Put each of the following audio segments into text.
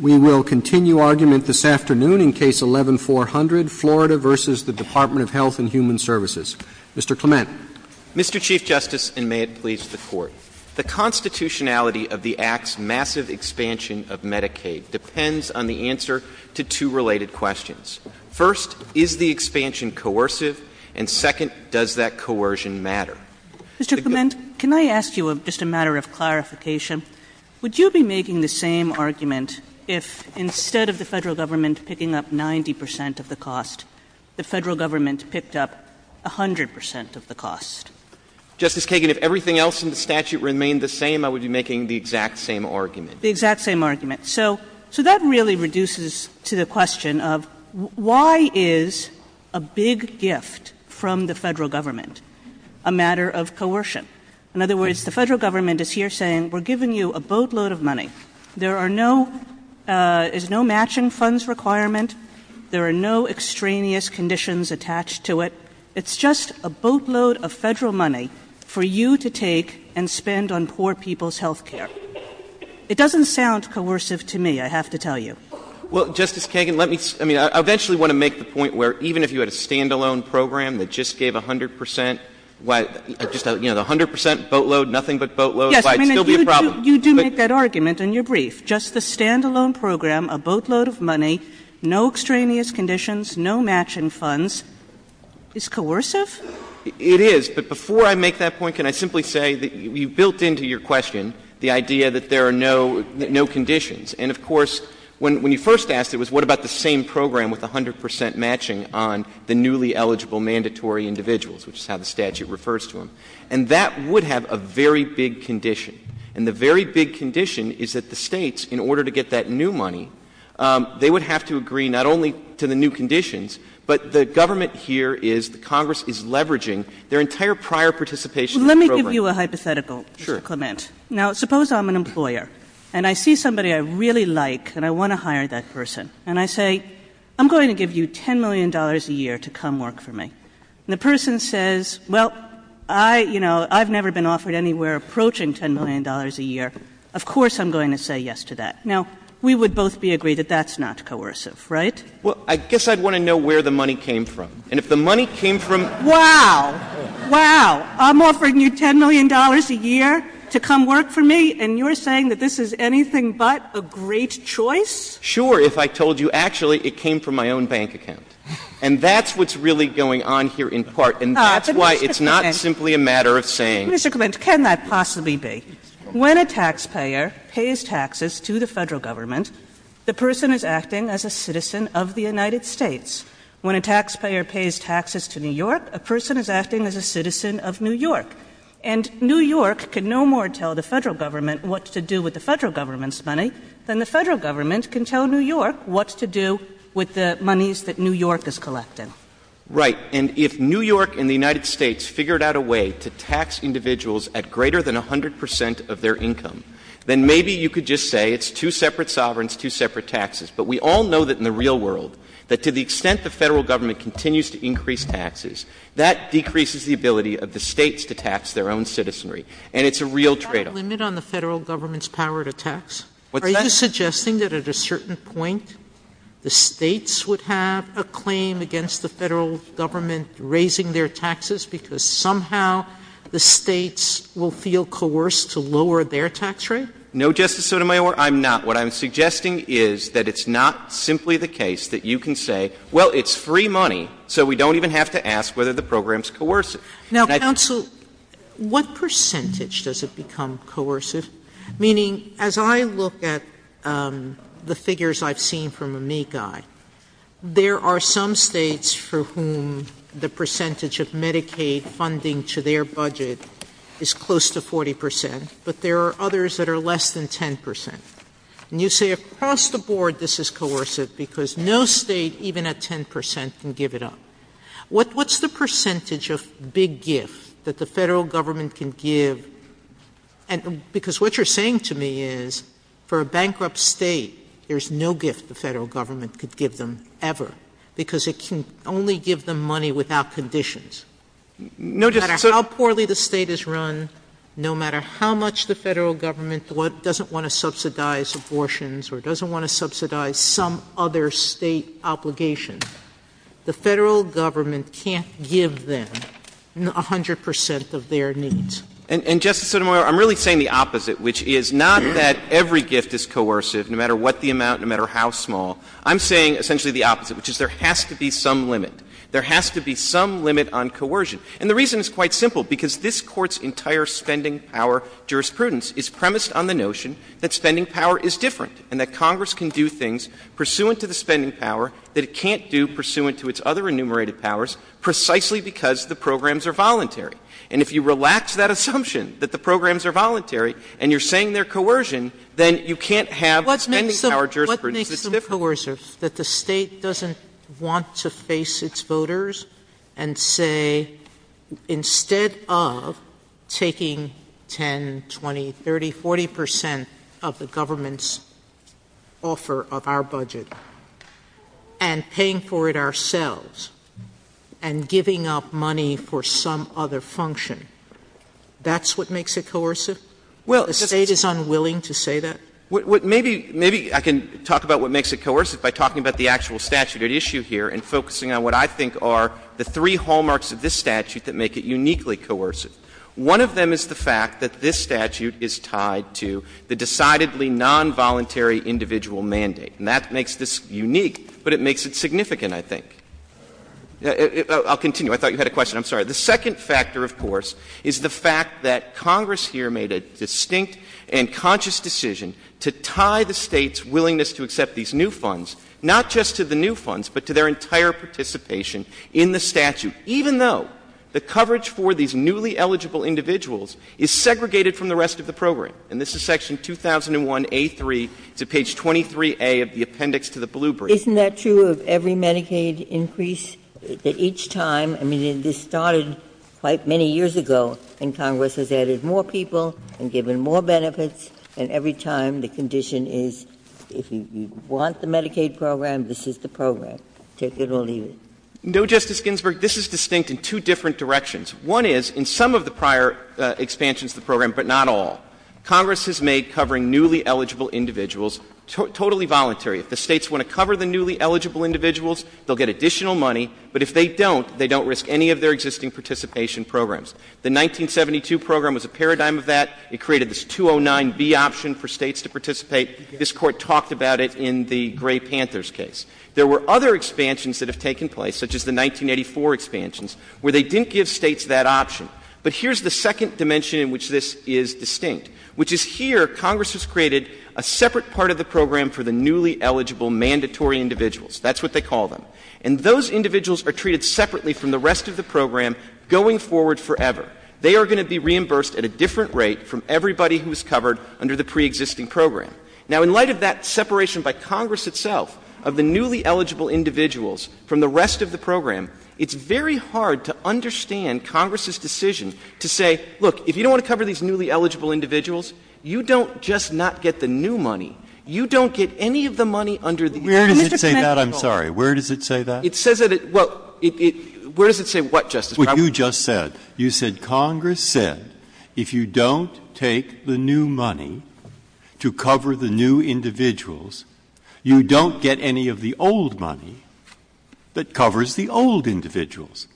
We will continue argument this afternoon in Case 11-400, Florida v. Department of Health and Human Services. Mr. Clement. Mr. Chief Justice, and may it please the Court, the constitutionality of the Act's massive expansion of Medicaid depends on the answer to two related questions. First, is the expansion coercive? And second, does that coercion matter? Mr. Clement, can I ask you just a matter of clarification? Would you be making the same argument if instead of the federal government picking up 90% of the cost, the federal government picked up 100% of the cost? Justice Kagan, if everything else in the statute remained the same, I would be making the exact same argument. So that really reduces to the question of why is a big gift from the federal government a matter of coercion? In other words, the federal government is here saying we're giving you a boatload of money. There is no matching funds requirement. There are no extraneous conditions attached to it. It's just a boatload of federal money for you to take and spend on poor people's health care. It doesn't sound coercive to me, I have to tell you. Well, Justice Kagan, let me — I mean, I eventually want to make the point where even if you had a stand-alone program that just gave 100% — you know, the 100% boatload, nothing but boatloads might still be a problem. Yes, I mean, you do make that argument in your brief. Just the stand-alone program, a boatload of money, no extraneous conditions, no matching funds, is coercive? It is. But before I make that point, can I simply say that you built into your question the idea that there are no conditions. And, of course, when you first asked it was what about the same program with 100% matching on the newly eligible mandatory individuals, which is how the statute refers to them. And that would have a very big condition. And the very big condition is that the states, in order to get that new money, they would have to agree not only to the new conditions, but the government here is — the Congress is leveraging their entire prior participation in the program. Let me give you a hypothetical, Clement. Sure. Now, suppose I'm an employer, and I see somebody I really like and I want to hire that person. And I say, I'm going to give you $10 million a year to come work for me. And the person says, well, I, you know, I've never been offered anywhere approaching $10 million a year. Of course I'm going to say yes to that. Now, we would both be agreed that that's not coercive, right? Well, I guess I'd want to know where the money came from. And if the money came from — Wow. Wow. I'm offering you $10 million a year to come work for me, and you're saying that this is anything but a great choice? Sure, if I told you, actually, it came from my own bank account. And that's what's really going on here in part. And that's why it's not simply a matter of saying — Mr. Clement, can that possibly be? When a taxpayer pays taxes to the federal government, the person is acting as a citizen of the United States. When a taxpayer pays taxes to New York, a person is acting as a citizen of New York. And New York can no more tell the federal government what to do with the federal government's money than the federal government can tell New York what to do with the monies that New York is collecting. Right. And if New York and the United States figured out a way to tax individuals at greater than 100 percent of their income, then maybe you could just say it's two separate sovereigns, two separate taxes. But we all know that in the real world, that to the extent the federal government continues to increase taxes, that decreases the ability of the states to tax their own citizenry. And it's a real tradeoff. Is there a limit on the federal government's power to tax? Are you suggesting that at a certain point the states would have a claim against the federal government raising their taxes because somehow the states will feel coerced to lower their tax rate? No, Justice Sotomayor, I'm not. What I'm suggesting is that it's not simply the case that you can say, well, it's free money, so we don't even have to ask whether the program's coercive. Now, counsel, what percentage does it become coercive? Meaning, as I look at the figures I've seen from Amici, there are some states for whom the percentage of Medicaid funding to their budget is close to 40 percent, but there are others that are less than 10 percent. And you say across the board this is coercive because no state, even at 10 percent, can give it up. What's the percentage of big gift that the federal government can give because what you're saying to me is for a bankrupt state, there's no gift the federal government could give them ever because it can only give them money without conditions. No matter how poorly the state is run, no matter how much the federal government doesn't want to subsidize abortions or doesn't want to subsidize some other state obligation, the federal government can't give them 100 percent of their needs. And, Justice Sotomayor, I'm really saying the opposite, which is not that every gift is coercive, no matter what the amount, no matter how small. I'm saying essentially the opposite, which is there has to be some limit. There has to be some limit on coercion. And the reason is quite simple, because this Court's entire spending power jurisprudence is premised on the notion that spending power is different and that Congress can do things pursuant to the spending power that it can't do pursuant to its other enumerated powers precisely because the programs are voluntary. And if you relax that assumption that the programs are voluntary and you're saying they're coercion, then you can't have spending power jurisprudence that's different. What makes them coercive is that the state doesn't want to face its voters and say, instead of taking 10, 20, 30, 40 percent of the government's offer of our budget and paying for it ourselves and giving up money for some other function, that's what makes it coercive? The state is unwilling to say that? Maybe I can talk about what makes it coercive by talking about the actual statute at issue here and focusing on what I think are the three hallmarks of this statute that make it uniquely coercive. One of them is the fact that this statute is tied to the decidedly nonvoluntary individual mandate. And that makes this unique, but it makes it significant, I think. I'll continue. I thought you had a question. I'm sorry. The second factor, of course, is the fact that Congress here made a distinct and conscious decision to tie the state's willingness to accept these new funds not just to the new funds, but to their entire participation in the statute, even though the coverage for these newly eligible individuals is segregated from the rest of the program. And this is section 2001A3 to page 23A of the appendix to the blue brief. Isn't that true of every Medicaid increase? That each time — I mean, this started quite many years ago, and Congress has added more people and given more benefits, and every time the condition is if you want the Medicaid program, this is the program. Take it or leave it. No, Justice Ginsburg, this is distinct in two different directions. One is, in some of the prior expansions to the program, but not all, Congress has made covering newly eligible individuals totally voluntary. If the states want to cover the newly eligible individuals, they'll get additional money, but if they don't, they don't risk any of their existing participation programs. The 1972 program was a paradigm of that. It created this 209B option for states to participate. This Court talked about it in the Gray Panthers case. There were other expansions that have taken place, such as the 1984 expansions, where they didn't give states that option. But here's the second dimension in which this is distinct, which is here Congress has created a separate part of the program for the newly eligible mandatory individuals. That's what they call them. And those individuals are treated separately from the rest of the program going forward forever. They are going to be reimbursed at a different rate from everybody who is covered under the preexisting program. Now, in light of that separation by Congress itself of the newly eligible individuals from the rest of the program, it's very hard to understand Congress's decision to say, look, if you don't want to cover these newly eligible individuals, you don't just not get the new money. You don't get any of the money under the new mandatory program. Where does it say that? I'm sorry. Where does it say that? It says that it — well, it — where does it say what, Justice Breyer? Well, you just said — you said Congress said if you don't take the new money to cover the new individuals, you don't get any of the old money that covers the old individuals.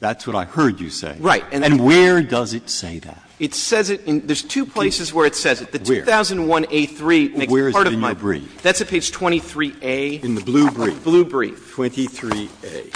That's what I heard you say. Right. And where does it say that? It says it in — there's two places where it says it. The 2001A3 makes part of my — Where is it in your brief? That's at page 23A. In the blue brief? Blue brief. 23A.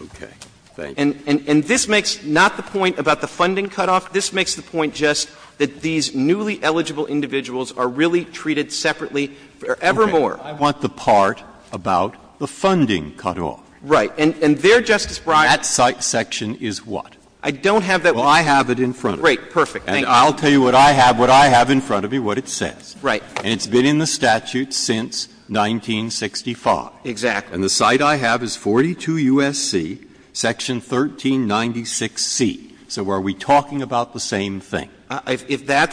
Okay. Thank you. And this makes not the point about the funding cutoff. This makes the point just that these newly eligible individuals are really treated separately forevermore. Okay. I want the part about the funding cutoff. Right. And there, Justice Breyer — That site section is what? I don't have that — Well, I have it in front of me. Great. Perfect. Thank you. And I'll tell you what I have. What I have in front of me, what it says. Right. And it's been in the statute since 1965. Exactly. And the site I have is 42 U.S.C., section 1396C. So are we talking about the same thing? If that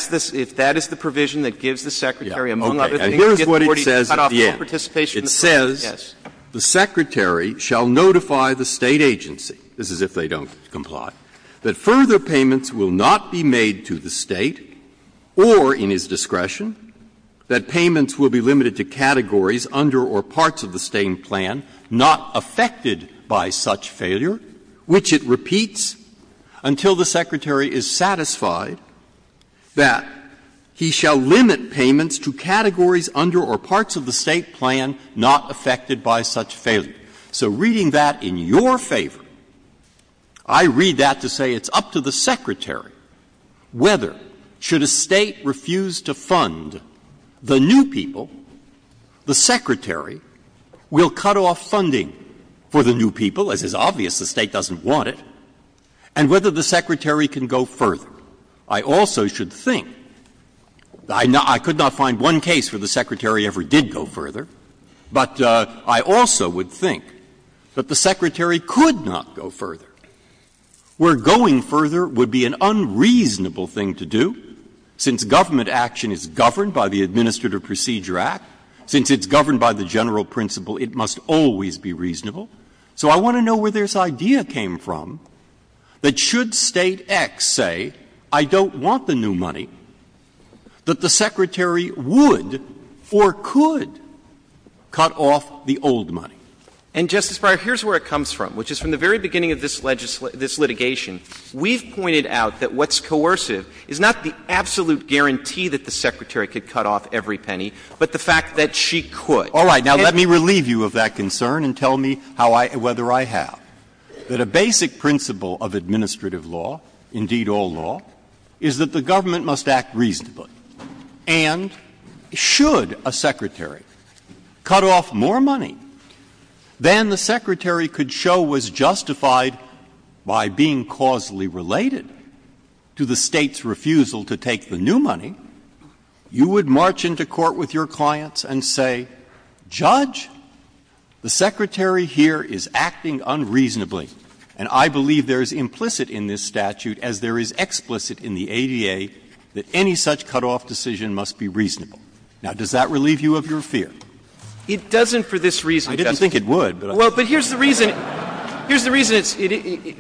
is the provision that gives the secretary — Yeah. Okay. Here's what it says at the end. It says, the secretary shall notify the state agency — this is if they don't comply — that further payments will not be made to the state or in his discretion, that payments will be limited to categories under or parts of the same plan, not affected by such failure, which it repeats until the secretary is satisfied that he shall limit payments to categories under or parts of the state plan not affected by such failure. So reading that in your favor, I read that to say it's up to the secretary whether, should a state refuse to fund the new people, the secretary will cut off funding for the new people. It is obvious the state doesn't want it. And whether the secretary can go further, I also should think — I could not find one case where the secretary ever did go further, but I also would think that the secretary could not go further, where going further would be an unreasonable thing to do, since government action is governed by the Administrative Procedure Act. Since it's governed by the general principle, it must always be reasonable. So I want to know where this idea came from, that should state X say, I don't want the new money, that the secretary would or could cut off the old money. And, Justice Breyer, here's where it comes from, which is from the very beginning of this litigation. We've pointed out that what's coercive is not the absolute guarantee that the secretary could cut off every penny, but the fact that she could. All right, now let me relieve you of that concern and tell me whether I have. That a basic principle of administrative law, indeed all law, is that the government must act reasonably. And should a secretary cut off more money than the secretary could show was justified by being causally related to the state's refusal to take the new money, you would march into court with your clients and say, Judge, the secretary here is acting unreasonably, and I believe there is implicit in this statute, as there is explicit in the ADA, that any such cutoff decision must be reasonable. Now, does that relieve you of your fear? It doesn't for this reason. I didn't think it would. Well, but here's the reason. Here's the reason,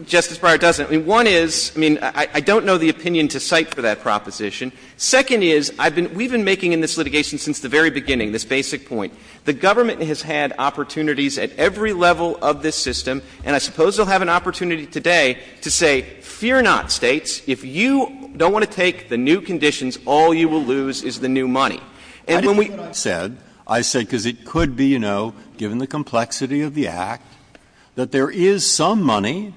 Justice Breyer, it doesn't. One is, I mean, I don't know the opinion to cite for that proposition. Second is, we've been making in this litigation since the very beginning this basic point. The government has had opportunities at every level of this system, and I suppose they'll have an opportunity today to say, Fear not, states, if you don't want to take the new conditions, all you will lose is the new money. I said, because it could be, you know, given the complexity of the act, that there is some money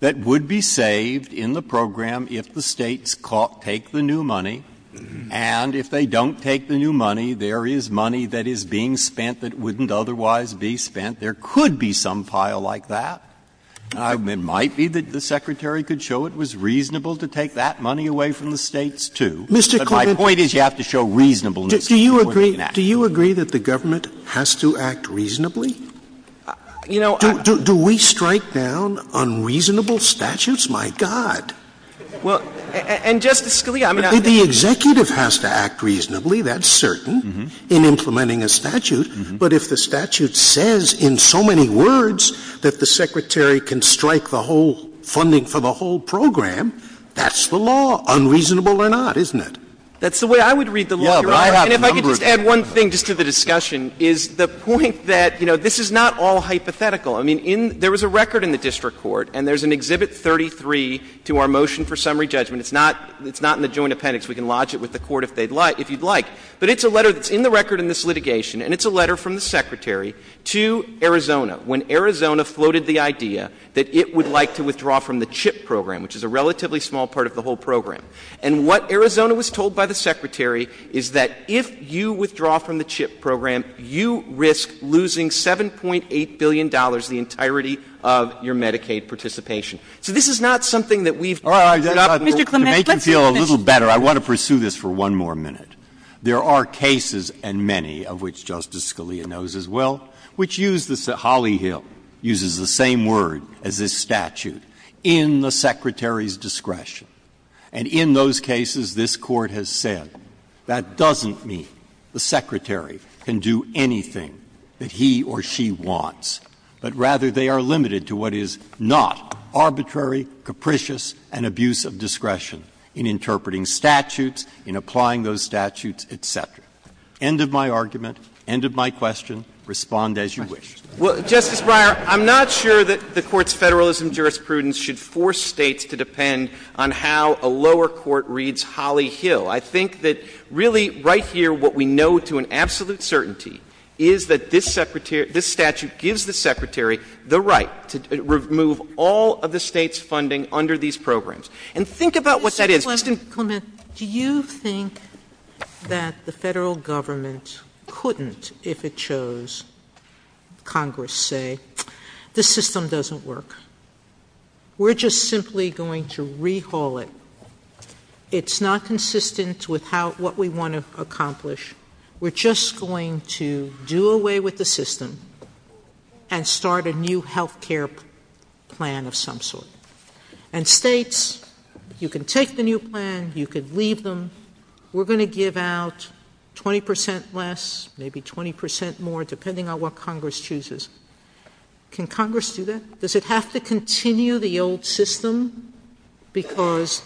that would be saved in the program if the states take the new money, and if they don't take the new money, there is money that is being spent that wouldn't otherwise be spent. There could be some pile like that. It might be that the secretary could show it was reasonable to take that money away from the states, too. But my point is you have to show reasonableness. Do you agree that the government has to act reasonably? Do we strike down unreasonable statutes? My God. Well, and Justice Scalia, I'm not... The executive has to act reasonably, that's certain, in implementing a statute, but if the statute says in so many words that the secretary can strike the whole funding for the whole program, that's the law, unreasonable or not, isn't it? That's the way I would read the law. And if I could just add one thing just for the discussion is the point that, you know, this is not all hypothetical. I mean, there was a record in the district court, and there's an Exhibit 33 to our motion for summary judgment. It's not in the joint appendix. We can lodge it with the court if you'd like. But it's a letter that's in the record in this litigation, and it's a letter from the secretary to Arizona when Arizona floated the idea that it would like to withdraw from the CHIP program, which is a relatively small part of the whole program. And what Arizona was told by the secretary is that if you withdraw from the CHIP program, you risk losing $7.8 billion, the entirety of your Medicaid participation. So this is not something that we've... To make you feel a little better, I want to pursue this for one more minute. There are cases, and many of which Justice Scalia knows as well, which use the... Holly Hill uses the same word as this statute, in the secretary's discretion. And in those cases, this court has said, that doesn't mean the secretary can do anything that he or she wants, but rather they are limited to what is not arbitrary, capricious, and abuse of discretion in interpreting statutes, in applying those statutes, et cetera. End of my argument. End of my question. Respond as you wish. Well, Justice Breyer, I'm not sure that the court's federalism jurisprudence should force states to depend on how a lower court reads Holly Hill. I think that really, right here, what we know to an absolute certainty is that this statute gives the secretary the right to remove all of the state's funding under these programs. And think about what that is. Justice Clement, do you think that the federal government couldn't, if it chose, Congress say, this system doesn't work? We're just simply going to rehaul it. It's not consistent with what we want to accomplish. We're just going to do away with the system and start a new health care plan of some sort. And states, you can take the new plan, you can leave them. We're going to give out 20 percent less, maybe 20 percent more, depending on what Congress chooses. Can Congress do that? Does it have to continue the old system because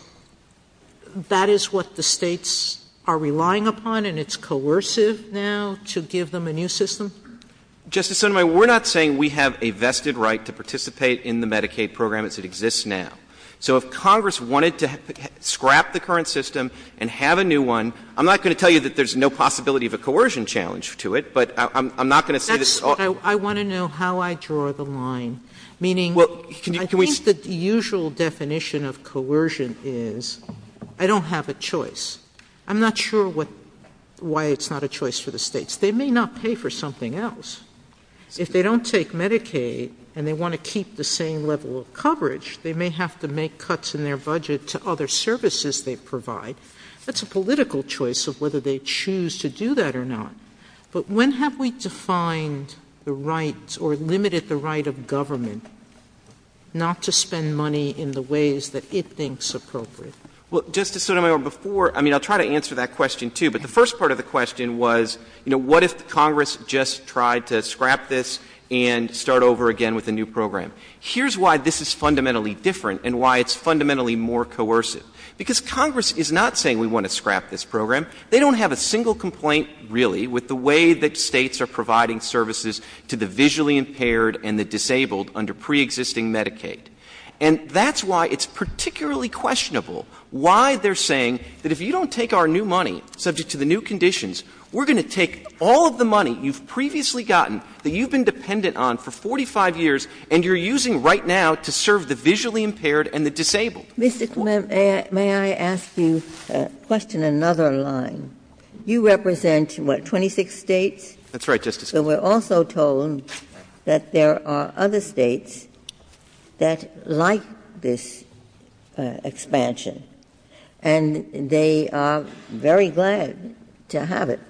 that is what the states are relying upon and it's coercive now to give them a new system? Justice Sotomayor, we're not saying we have a vested right to participate in the Medicaid program as it exists now. So if Congress wanted to scrap the current system and have a new one, I'm not going to tell you that there's no possibility of a coercion challenge to it, but I'm not going to say that's all. I want to know how I draw the line. Meaning, I think the usual definition of coercion is I don't have a choice. I'm not sure why it's not a choice for the states. They may not pay for something else. If they don't take Medicaid and they want to keep the same level of coverage, they may have to make cuts in their budget to other services they provide. That's a political choice of whether they choose to do that or not. But when have we defined the rights or limited the right of government not to spend money in the ways that it thinks appropriate? Well, Justice Sotomayor, before, I mean, I'll try to answer that question too, but the first part of the question was, you know, what if Congress just tried to scrap this and start over again with a new program? Here's why this is fundamentally different and why it's fundamentally more coercive. Because Congress is not saying we want to scrap this program. They don't have a single complaint, really, with the way that states are providing services to the visually impaired and the disabled under preexisting Medicaid. And that's why it's particularly questionable why they're saying that if you don't take our new money, subject to the new conditions, we're going to take all of the money you've previously gotten that you've been dependent on for 45 years and you're using right now to serve the visually impaired and the disabled. Mr. Clement, may I ask you a question in another line? You represent, what, 26 states? That's right, Justice Sotomayor. So we're also told that there are other states that like this expansion and they are very glad to have it.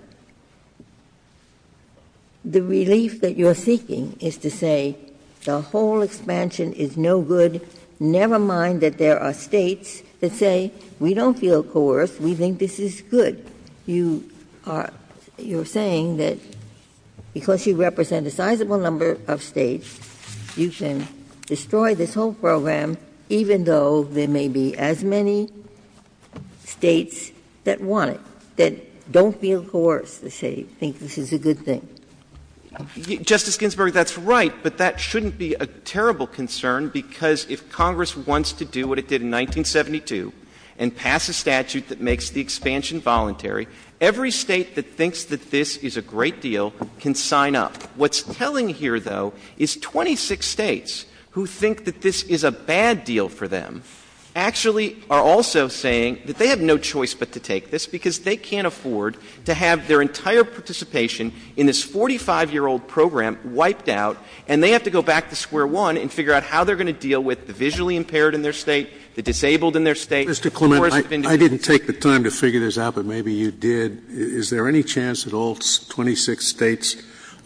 The relief that you're seeking is to say the whole expansion is no good, never mind that there are states that say we don't feel coerced, we think this is good. You are saying that because you represent a sizable number of states, you can destroy this whole program even though there may be as many states that want it, that don't feel coerced to say they think this is a good thing. Justice Ginsburg, that's right, but that shouldn't be a terrible concern because if Congress wants to do what it did in 1972 and pass a statute that makes the expansion voluntary, every state that thinks that this is a great deal can sign up. What's telling here, though, is 26 states who think that this is a bad deal for them actually are also saying that they have no choice but to take this because they can't afford to have their entire participation in this 45-year-old program wiped out and they have to go back to square one and figure out how they're going to deal with the visually impaired in their state, the disabled in their state. Mr. Clement, I didn't take the time to figure this out, but maybe you did. Is there any chance that all 26 states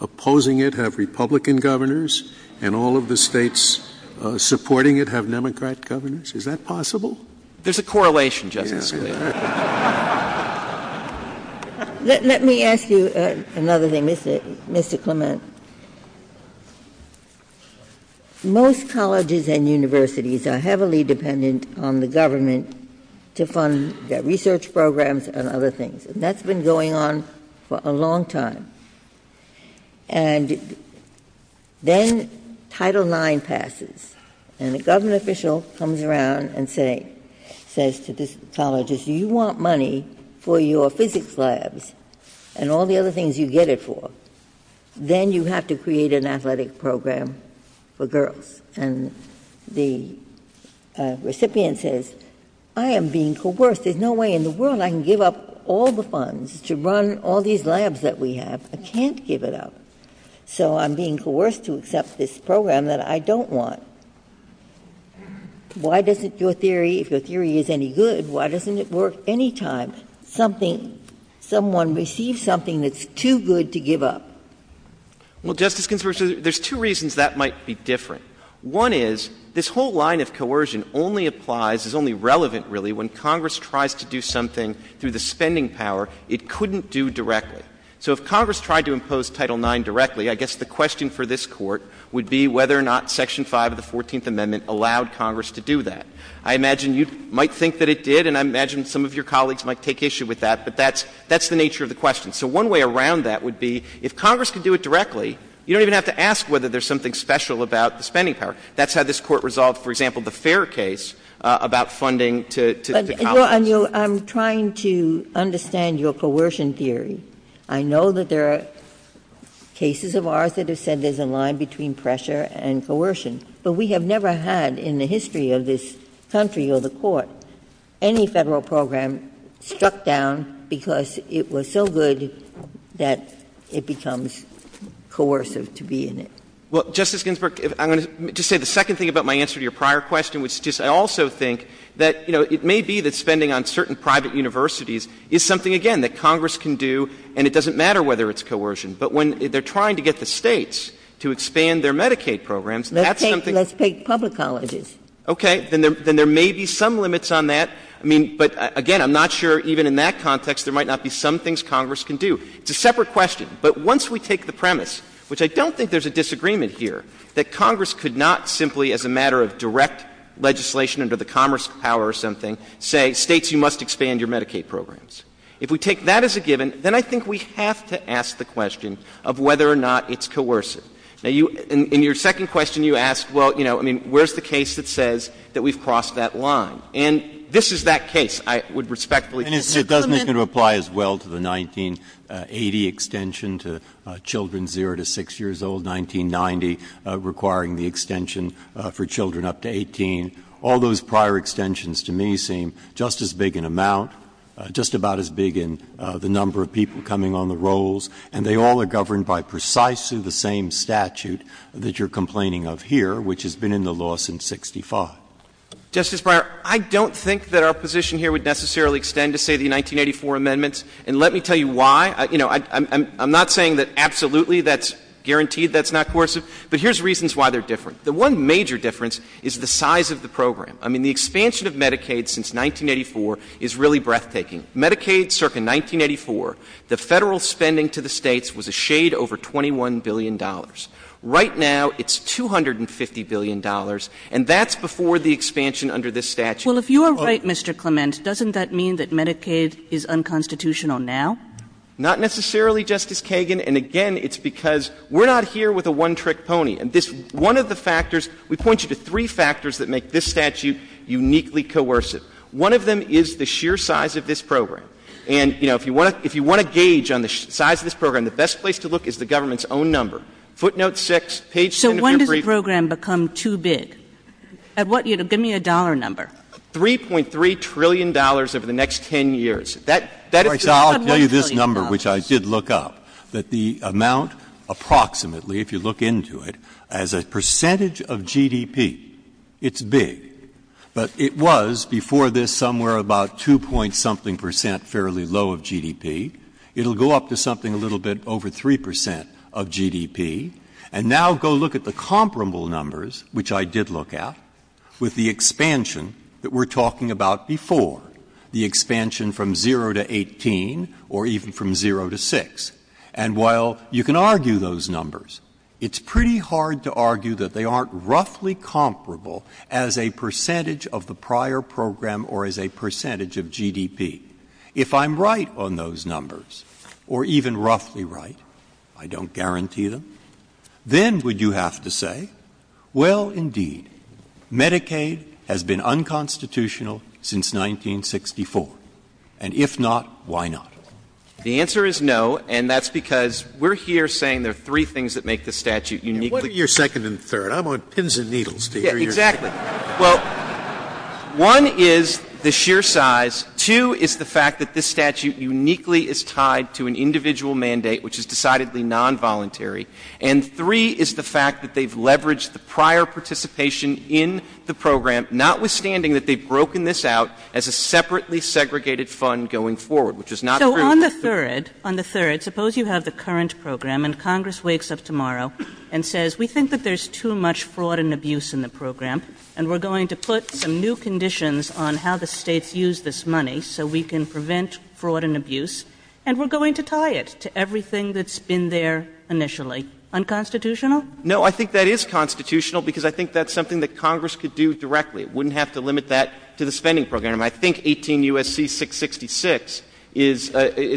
opposing it have Republican governors and all of the states supporting it have Democrat governors? Is that possible? There's a correlation, Justice. Let me ask you another thing, Mr. Clement. Most colleges and universities are heavily dependent on the government to fund their research programs and other things. And that's been going on for a long time. And then Title IX passes and a government official comes around and says to the colleges, do you want money for your physics labs and all the other things you get it for? Then you have to create an athletic program for girls. And the recipient says, I am being coerced. There's no way in the world I can give up all the funds to run all these labs that we have. I can't give it up. So I'm being coerced to accept this program that I don't want. Why doesn't your theory, if your theory is any good, why doesn't it work any time someone receives something that's too good to give up? Well, Justice Ginsburg, there's two reasons that might be different. One is, this whole line of coercion only applies, is only relevant, really, when Congress tries to do something through the spending power it couldn't do directly. So if Congress tried to impose Title IX directly, I guess the question for this Court would be whether or not Section 5 of the 14th Amendment allowed Congress to do that. I imagine you might think that it did, and I imagine some of your colleagues might take issue with that, but that's the nature of the question. So one way around that would be, if Congress can do it directly, you don't even have to ask whether there's something special about the spending power. That's how this Court resolved, for example, the Fair case about funding to Congress. I'm trying to understand your coercion theory. I know that there are cases of ours that have said there's a line between pressure and coercion, but we have never had, in the history of this country or the Court, any Federal program struck down because it was so good that it becomes coercive to be in it. Well, Justice Ginsburg, I'm going to just say the second thing about my answer to your prior question, which is I also think that, you know, it may be that spending on certain private universities is something, again, that Congress can do, and it doesn't matter whether it's coercion, but when they're trying to get the States to expand their Medicaid programs, that's something... Medicaid, let's take public colleges. Okay. Then there may be some limits on that. I mean, but, again, I'm not sure even in that context there might not be some things Congress can do. It's a separate question. But once we take the premise, which I don't think there's a disagreement here, that Congress could not simply, as a matter of direct legislation under the Commerce power or something, say, States, you must expand your Medicaid programs. If we take that as a given, then I think we have to ask the question of whether or not it's coercive. Now, in your second question, you asked, well, you know, I mean, where's the case that says that we've crossed that line? And this is that case, I would respectfully... And it doesn't even apply as well to the 1980 extension to children 0 to 6 years old, 1990 requiring the extension for children up to 18. All those prior extensions to me seem just as big in amount, just about as big in the number of people coming on the rolls, and they all are governed by precisely the same statute that you're complaining of here, which has been in the laws since 1965. Justice Breyer, I don't think that our position here would necessarily extend to, say, the 1984 amendments, and let me tell you why. You know, I'm not saying that absolutely that's guaranteed that's not coercive, but here's reasons why they're different. The one major difference is the size of the program. I mean, the expansion of Medicaid since 1984 is really breathtaking. Medicaid circa 1984, the federal spending to the states was a shade over $21 billion. Right now it's $250 billion, and that's before the expansion under this statute. Well, if you are right, Mr. Clements, doesn't that mean that Medicaid is unconstitutional now? Not necessarily, Justice Kagan, and again, it's because we're not here with a one-trick pony. One of the factors, we point you to three factors that make this statute uniquely coercive. One of them is the sheer size of this program. And, you know, if you want to gauge on the size of this program, the best place to look is the government's own number. Footnote 6, page 7 of your brief. So when does the program become too big? Give me a dollar number. $3.3 trillion over the next 10 years. I'll give you this number, which I did look up, that the amount approximately, if you look into it, as a percentage of GDP, it's big. But it was before this somewhere about 2-point-something percent fairly low of GDP. It'll go up to something a little bit over 3% of GDP. And now go look at the comparable numbers, which I did look at, with the expansion that we're talking about before, the expansion from 0 to 18 or even from 0 to 6. And while you can argue those numbers, it's pretty hard to argue that they aren't roughly comparable as a percentage of the prior program or as a percentage of GDP. If I'm right on those numbers, or even roughly right, I don't guarantee them, then we do have to say, well, indeed, Medicaid has been unconstitutional since 1964. And if not, why not? The answer is no, and that's because we're here saying there are three things that make this statute uniquely... What are your second and third? I'm on pins and needles to hear your... Yeah, exactly. Well, one is the sheer size. Two is the fact that this statute uniquely is tied to an individual mandate, which is decidedly non-voluntary. And three is the fact that they've leveraged the prior participation in the program, notwithstanding that they've broken this out as a separately segregated fund going forward, which is not true. So on the third, suppose you have the current program, and Congress wakes up tomorrow and says, we think that there's too much fraud and abuse in the program, and we're going to put some new conditions on how the states use this money so we can prevent fraud and abuse, and we're going to tie it to everything that's been there initially. Unconstitutional? No, I think that is constitutional, because I think that's something that Congress could do directly. It wouldn't have to limit that to the spending program. I think 18 U.S.C. 666 is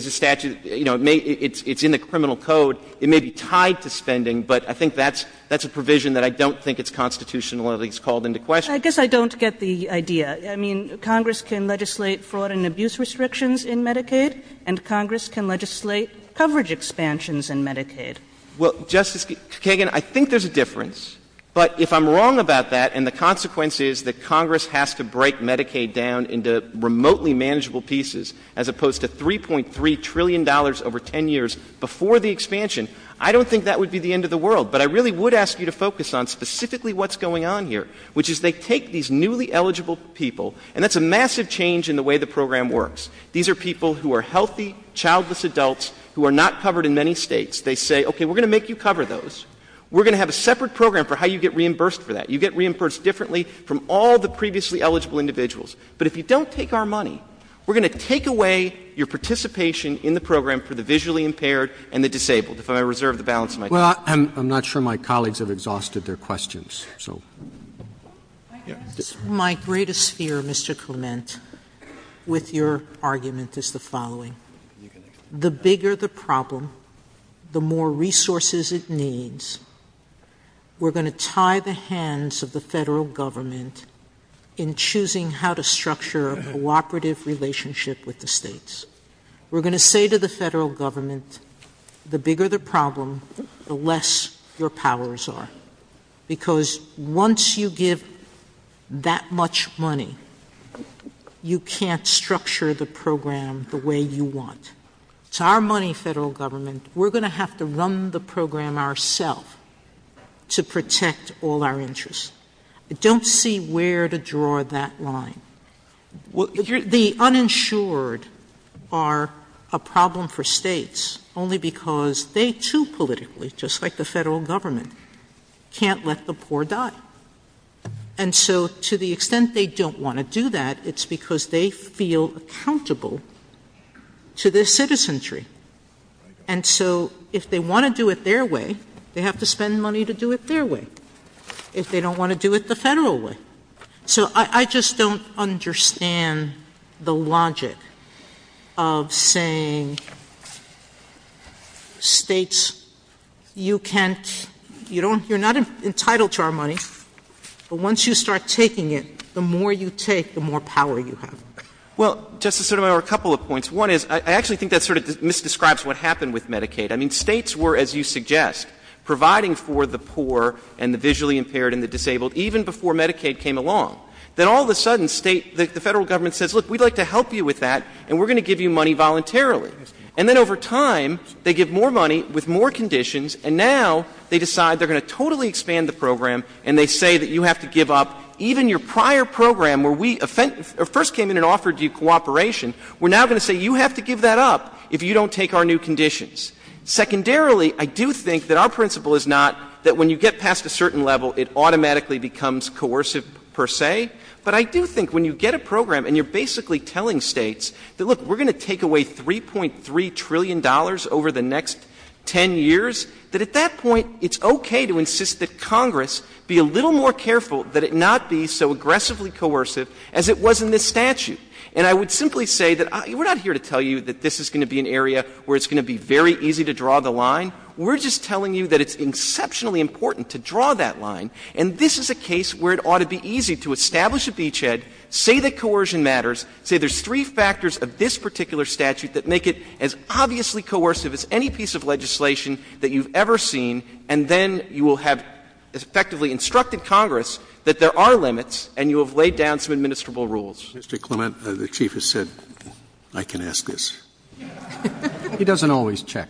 a statute. You know, it's in the criminal code. It may be tied to spending, but I think that's a provision that I don't think is constitutionally called into question. I guess I don't get the idea. I mean, Congress can legislate fraud and abuse restrictions in Medicaid, and Congress can legislate coverage expansions in Medicaid. Well, Justice Kagan, I think there's a difference. But if I'm wrong about that, and the consequence is that Congress has to break Medicaid down into remotely manageable pieces as opposed to $3.3 trillion over 10 years before the expansion, I don't think that would be the end of the world. But I really would ask you to focus on specifically what's going on here, which is they take these newly eligible people, and that's a massive change in the way the program works. These are people who are healthy, childless adults who are not covered in many states. They say, okay, we're going to make you cover those. We're going to have a separate program for how you get reimbursed for that. You get reimbursed differently from all the previously eligible individuals. But if you don't take our money, we're going to take away your participation in the program for the visually impaired and the disabled. If I reserve the balance of my time. Well, I'm not sure my colleagues have exhausted their questions. My greatest fear, Mr. Clement, with your argument is the following. The bigger the problem, the more resources it needs. We're going to tie the hands of the federal government in choosing how to structure a cooperative relationship with the states. We're going to say to the federal government, the bigger the problem, the less your powers are. Because once you give that much money, you can't structure the program the way you want. To our money, federal government, we're going to have to run the program ourselves to protect all our interests. I don't see where to draw that line. The uninsured are a problem for states only because they too politically, just like the federal government, can't let the poor die. And so to the extent they don't want to do that, it's because they feel accountable to their citizenry. And so if they want to do it their way, they have to spend money to do it their way. If they don't want to do it the federal way. So I just don't understand the logic of saying states, you're not entitled to our money, but once you start taking it, the more you take, the more power you have. Well, Justice Sotomayor, a couple of points. One is I actually think that sort of misdescribes what happened with Medicaid. I mean, states were, as you suggest, providing for the poor and the visually impaired and the disabled even before Medicaid came along. Then all of a sudden, the federal government says, look, we'd like to help you with that, and we're going to give you money voluntarily. And then over time, they give more money with more conditions, and now they decide they're going to totally expand the program and they say that you have to give up even your prior program where we first came in and offered you cooperation. We're now going to say you have to give that up if you don't take our new conditions. Secondarily, I do think that our principle is not that when you get past a certain level, it automatically becomes coercive per se, but I do think when you get a program and you're basically telling states that, look, we're going to take away $3.3 trillion over the next 10 years, that at that point, it's okay to insist that Congress be a little more careful that it not be so aggressively coercive as it was in this statute. And I would simply say that we're not here to tell you that this is going to be an area where it's going to be very easy to draw the line. We're just telling you that it's exceptionally important to draw that line, and this is a case where it ought to be easy to establish a beachhead, say that coercion matters, say there's three factors of this particular statute that make it as obviously coercive as any piece of legislation that you've ever seen, and then you will have effectively instructed Congress that there are limits and you have laid down some administrable rules. Mr. Clement, the chief has said, I can ask this. He doesn't always check.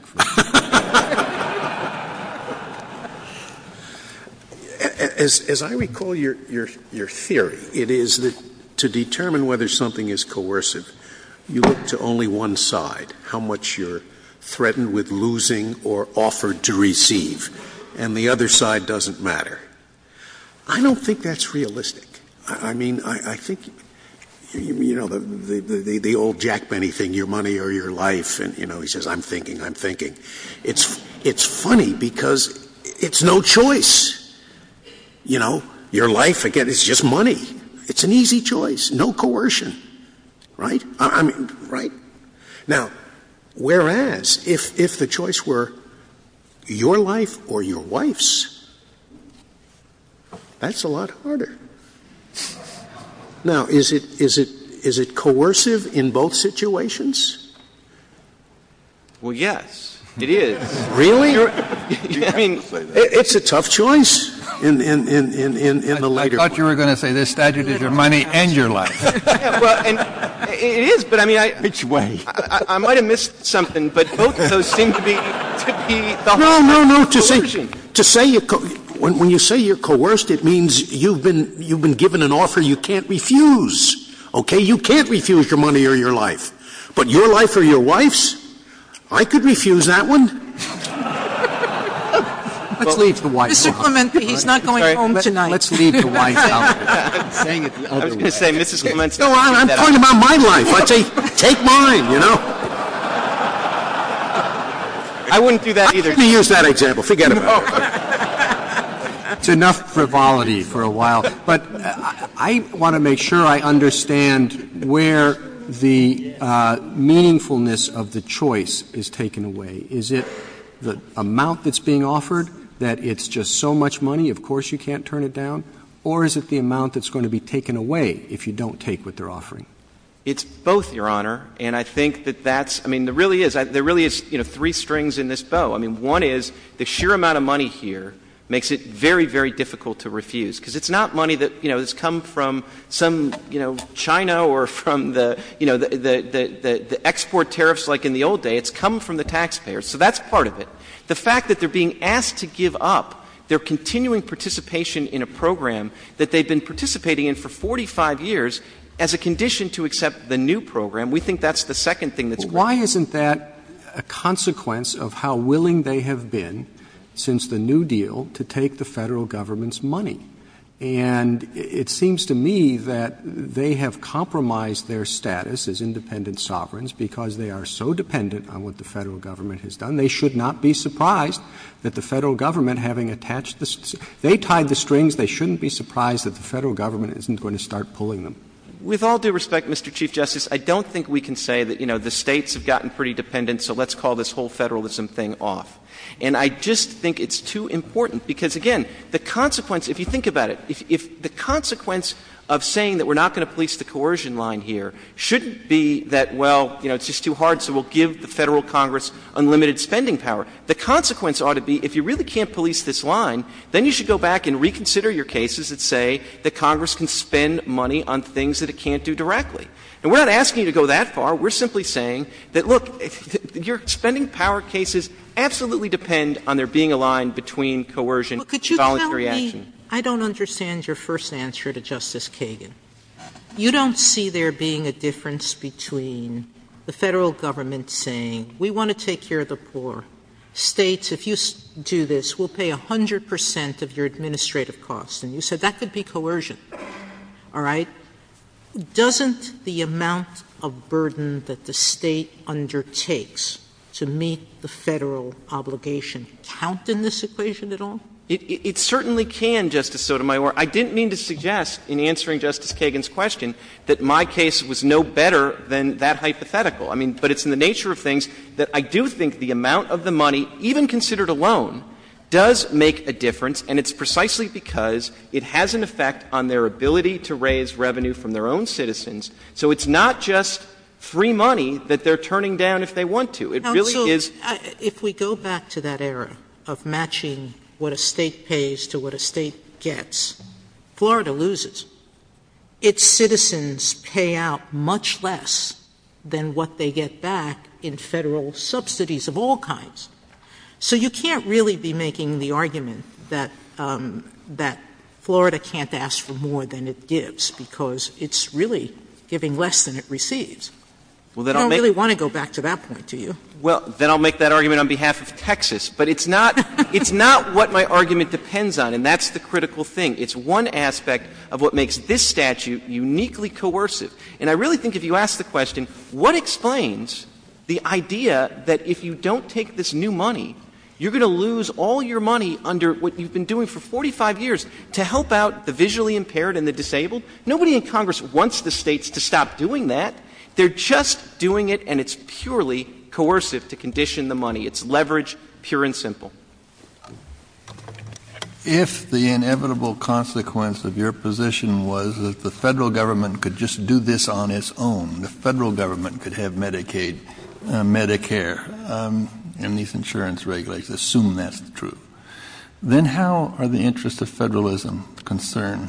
As I recall your theory, it is that to determine whether something is coercive, you look to only one side, how much you're threatened with losing or offered to receive, and the other side doesn't matter. I don't think that's realistic. I think the old Jack Benny thing, your money or your life, and he says, I'm thinking, I'm thinking. It's funny because it's no choice. Your life, again, it's just money. It's an easy choice, no coercion. Right? Now, whereas if the choice were your life or your wife's, that's a lot harder. Now, is it coercive in both situations? Well, yes, it is. Really? It's a tough choice. I thought you were going to say the statute is your money and your life. It is, but I mean, I might have missed something, but both of those things could be. No, no, no. When you say you're coerced, it means you've been given an offer you can't refuse. Okay? You can't refuse your money or your life. But your life or your wife's? I could refuse that one. Let's leave the wife out. Mr. Clemente, he's not going home tonight. Let's leave the wife out. I was going to say, Mr. Clemente. No, I'm talking about my life. I say, take mine, you know. I wouldn't do that either. I'm going to use that example. Forget about it. That's enough frivolity for a while. But I want to make sure I understand where the meaningfulness of the choice is taken away. Is it the amount that's being offered, that it's just so much money, of course you can't turn it down? Or is it the amount that's going to be taken away if you don't take what they're offering? It's both, Your Honor. And I think that that's, I mean, there really is three strings in this bow. I mean, one is the sheer amount of money here makes it very, very difficult to refuse. Because it's not money that has come from some, you know, China or from the export tariffs like in the old days. It's come from the taxpayers. So that's part of it. The fact that they're being asked to give up their continuing participation in a program that they've been participating in for 45 years as a condition to accept the new program, we think that's the second thing that's going on. But isn't that a consequence of how willing they have been since the New Deal to take the federal government's money? And it seems to me that they have compromised their status as independent sovereigns because they are so dependent on what the federal government has done. They should not be surprised that the federal government, having attached this, they tied the strings. They shouldn't be surprised that the federal government isn't going to start pulling them. With all due respect, Mr. Chief Justice, I don't think we can say that, you know, the states have gotten pretty dependent, so let's call this whole federalism thing off. And I just think it's too important because, again, the consequence, if you think about it, if the consequence of saying that we're not going to police the coercion line here shouldn't be that, well, you know, it's just too hard, so we'll give the federal Congress unlimited spending power. The consequence ought to be if you really can't police this line, then you should go back and reconsider your cases and say that Congress can spend money on things that it can't do directly. And we're not asking you to go that far. We're simply saying that, look, your spending power cases absolutely depend on there being a line between coercion and voluntary action. I don't understand your first answer to Justice Kagan. You don't see there being a difference between the federal government saying we want to take care of the poor, states, if you do this, we'll pay 100 percent of your administrative costs, and you said that could be coercion. All right? Doesn't the amount of burden that the state undertakes to meet the federal obligation count in this equation at all? It certainly can, Justice Sotomayor. I didn't mean to suggest in answering Justice Kagan's question that my case was no better than that hypothetical. I mean, but it's in the nature of things that I do think the amount of the money, even considered a loan, does make a difference, and it's precisely because it has an effect on their ability to raise revenue from their own citizens. So it's not just free money that they're turning down if they want to. If we go back to that era of matching what a state pays to what a state gets, Florida loses. Its citizens pay out much less than what they get back in federal subsidies of all kinds. So you can't really be making the argument that Florida can't ask for more than it gives because it's really giving less than it receives. I don't really want to go back to that point, do you? Well, then I'll make that argument on behalf of Texas. But it's not what my argument depends on, and that's the critical thing. It's one aspect of what makes this statute uniquely coercive. And I really think if you ask the question, what explains the idea that if you don't take this new money, you're going to lose all your money under what you've been doing for 45 years to help out the visually impaired and the disabled? Nobody in Congress wants the states to stop doing that. They're just doing it, and it's purely coercive to condition the money. It's leverage, pure and simple. If the inevitable consequence of your position was that the federal government could just do this on its own, the federal government could have Medicaid, Medicare, and these insurance regulations, assume that's true. Then how are the interests of federalism concerned?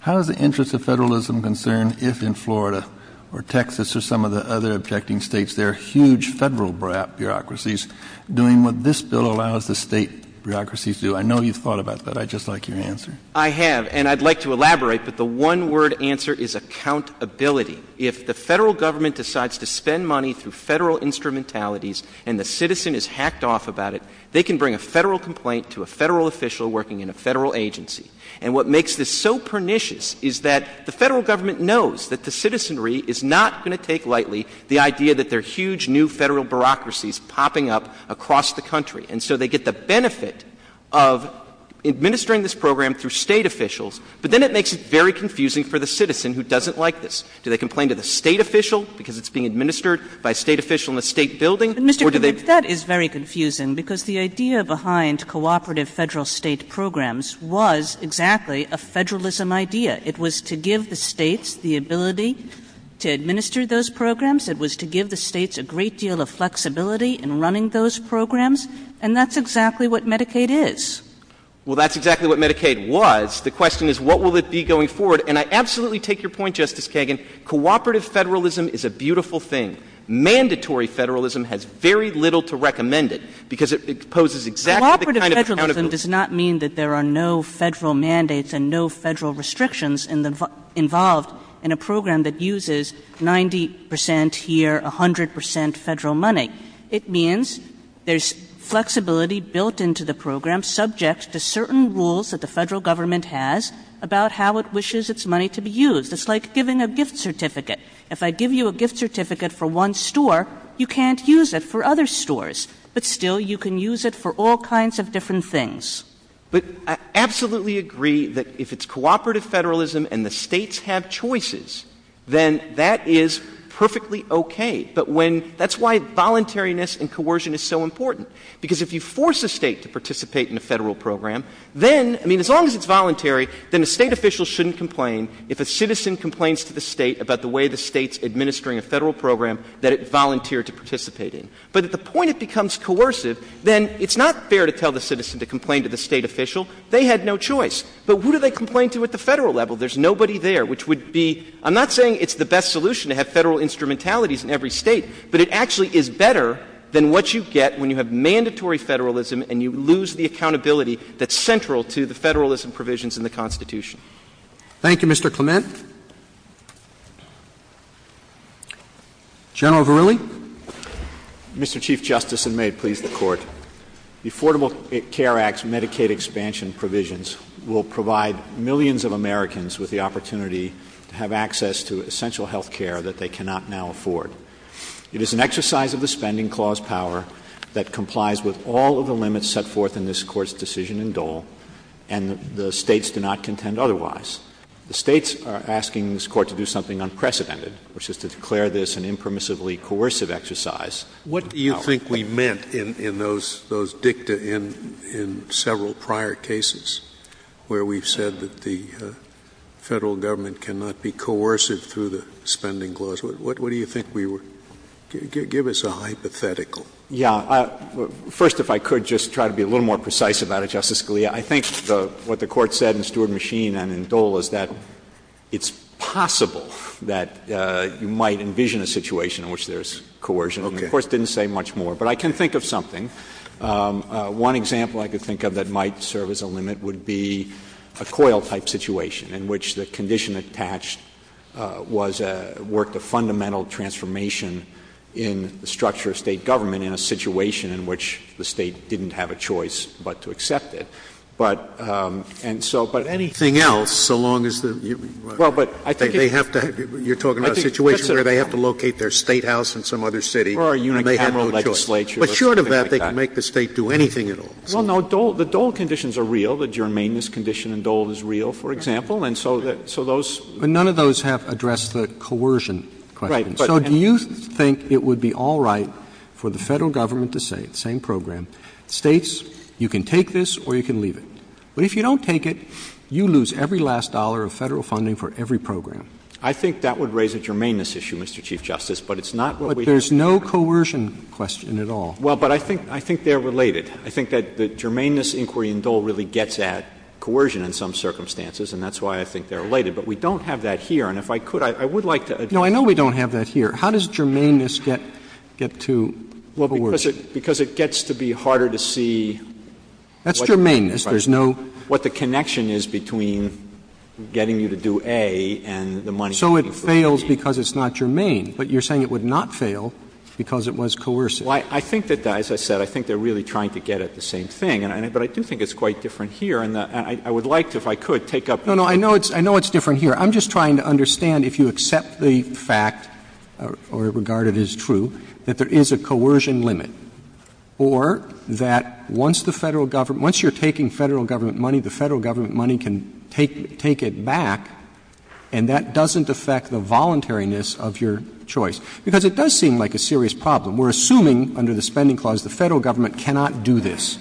How are the interests of federalism concerned if in Florida or Texas or some of the other objecting states there are huge federal bureaucracies doing what this bill allows the state bureaucracies to do? I know you've thought about that. I'd just like your answer. I have, and I'd like to elaborate, but the one-word answer is accountability. If the federal government decides to spend money through federal instrumentalities and the citizen is hacked off about it, they can bring a federal complaint to a federal official working in a federal agency. And what makes this so pernicious is that the federal government knows that the citizenry is not going to take lightly the idea that there are huge new federal bureaucracies popping up across the country. And so they get the benefit of administering this program through state officials, but then it makes it very confusing for the citizen who doesn't like this. Do they complain to the state official because it's being administered by a state official in a state building? That is very confusing because the idea behind cooperative federal state programs was exactly a federalism idea. It was to give the states the ability to administer those programs. It was to give the states a great deal of flexibility in running those programs, and that's exactly what Medicaid is. Well, that's exactly what Medicaid was. The question is, what will it be going forward? And I absolutely take your point, Justice Kagan. Cooperative federalism is a beautiful thing. Mandatory federalism has very little to recommend it because it poses exactly the kind of counter- Cooperative federalism does not mean that there are no federal mandates and no federal restrictions involved in a program that uses 90 percent here, 100 percent federal money. It means there's flexibility built into the program subject to certain rules that the federal government has about how it wishes its money to be used. It's like giving a gift certificate. If I give you a gift certificate for one store, you can't use it for other stores, but still you can use it for all kinds of different things. But I absolutely agree that if it's cooperative federalism and the states have choices, then that is perfectly okay. But that's why voluntariness and coercion is so important, because if you force a state to participate in a federal program, then, I mean, as long as it's voluntary, then the state officials shouldn't complain if a citizen complains to the state about the way the state's administering a federal program that it volunteered to participate in. But at the point it becomes coercive, then it's not fair to tell the citizen to complain to the state official. They had no choice. But who do they complain to at the federal level? There's nobody there, which would be – I'm not saying it's the best solution to have federal instrumentalities in every state, but it actually is better than what you get when you have mandatory federalism and you lose the accountability that's central to the federalism provisions in the Constitution. Thank you, Mr. Clement. General Verrilli? Mr. Chief Justice, and may it please the Court, the Affordable Care Act's Medicaid expansion provisions will provide millions of Americans with the opportunity to have access to essential health care that they cannot now afford. It is an exercise of the Spending Clause power that complies with all of the limits set forth in this Court's decision in Dole, and the states do not contend otherwise. The states are asking this Court to do something unprecedented, which is to declare this an impermissibly coercive exercise. What do you think we meant in those dicta in several prior cases where we've said that the federal government cannot be coercive through the Spending Clause? What do you think we were – give us a hypothetical. Yeah. First, if I could, just try to be a little more precise about it, Justice Scalia. I think what the Court said in Steward and Machine and in Dole is that it's possible that you might envision a situation in which there's coercion. Okay. The Court didn't say much more, but I can think of something. One example I could think of that might serve as a limit would be a COIL-type situation in which the condition attached worked a fundamental transformation in the structure of state government in a situation in which the state didn't have a choice but to accept it. But anything else, so long as the – you're talking about a situation where they have to locate their statehouse in some other city. But short of that, they can make the state do anything at all. Well, no. The Dole conditions are real. The germane-ness condition in Dole is real, for example. And so those – But none of those have addressed the coercion question. Right. So do you think it would be all right for the federal government to say – same program – states, you can take this or you can leave it. But if you don't take it, you lose every last dollar of federal funding for every program. I think that would raise a germane-ness issue, Mr. Chief Justice, but it's not what we – There's no coercion question at all. Well, but I think they're related. I think that the germane-ness inquiry in Dole really gets at coercion in some circumstances, and that's why I think they're related. But we don't have that here. And if I could, I would like to – No, I know we don't have that here. How does germane-ness get to – what were the words? Because it gets to be harder to see – That's germane-ness. There's no – What the connection is between getting you to do A and the money – So it fails because it's not germane, but you're saying it would not fail because it was coercive. Well, I think that, as I said, I think they're really trying to get at the same thing, but I do think it's quite different here, and I would like to, if I could, take up – No, no, I know it's different here. I'm just trying to understand if you accept the fact, or regard it as true, that there is a coercion limit, or that once the Federal Government – once you're taking Federal Government money, the Federal Government money can take it back, and that doesn't affect the voluntariness of your choice. Because it does seem like a serious problem. We're assuming, under the Spending Clause, the Federal Government cannot do this.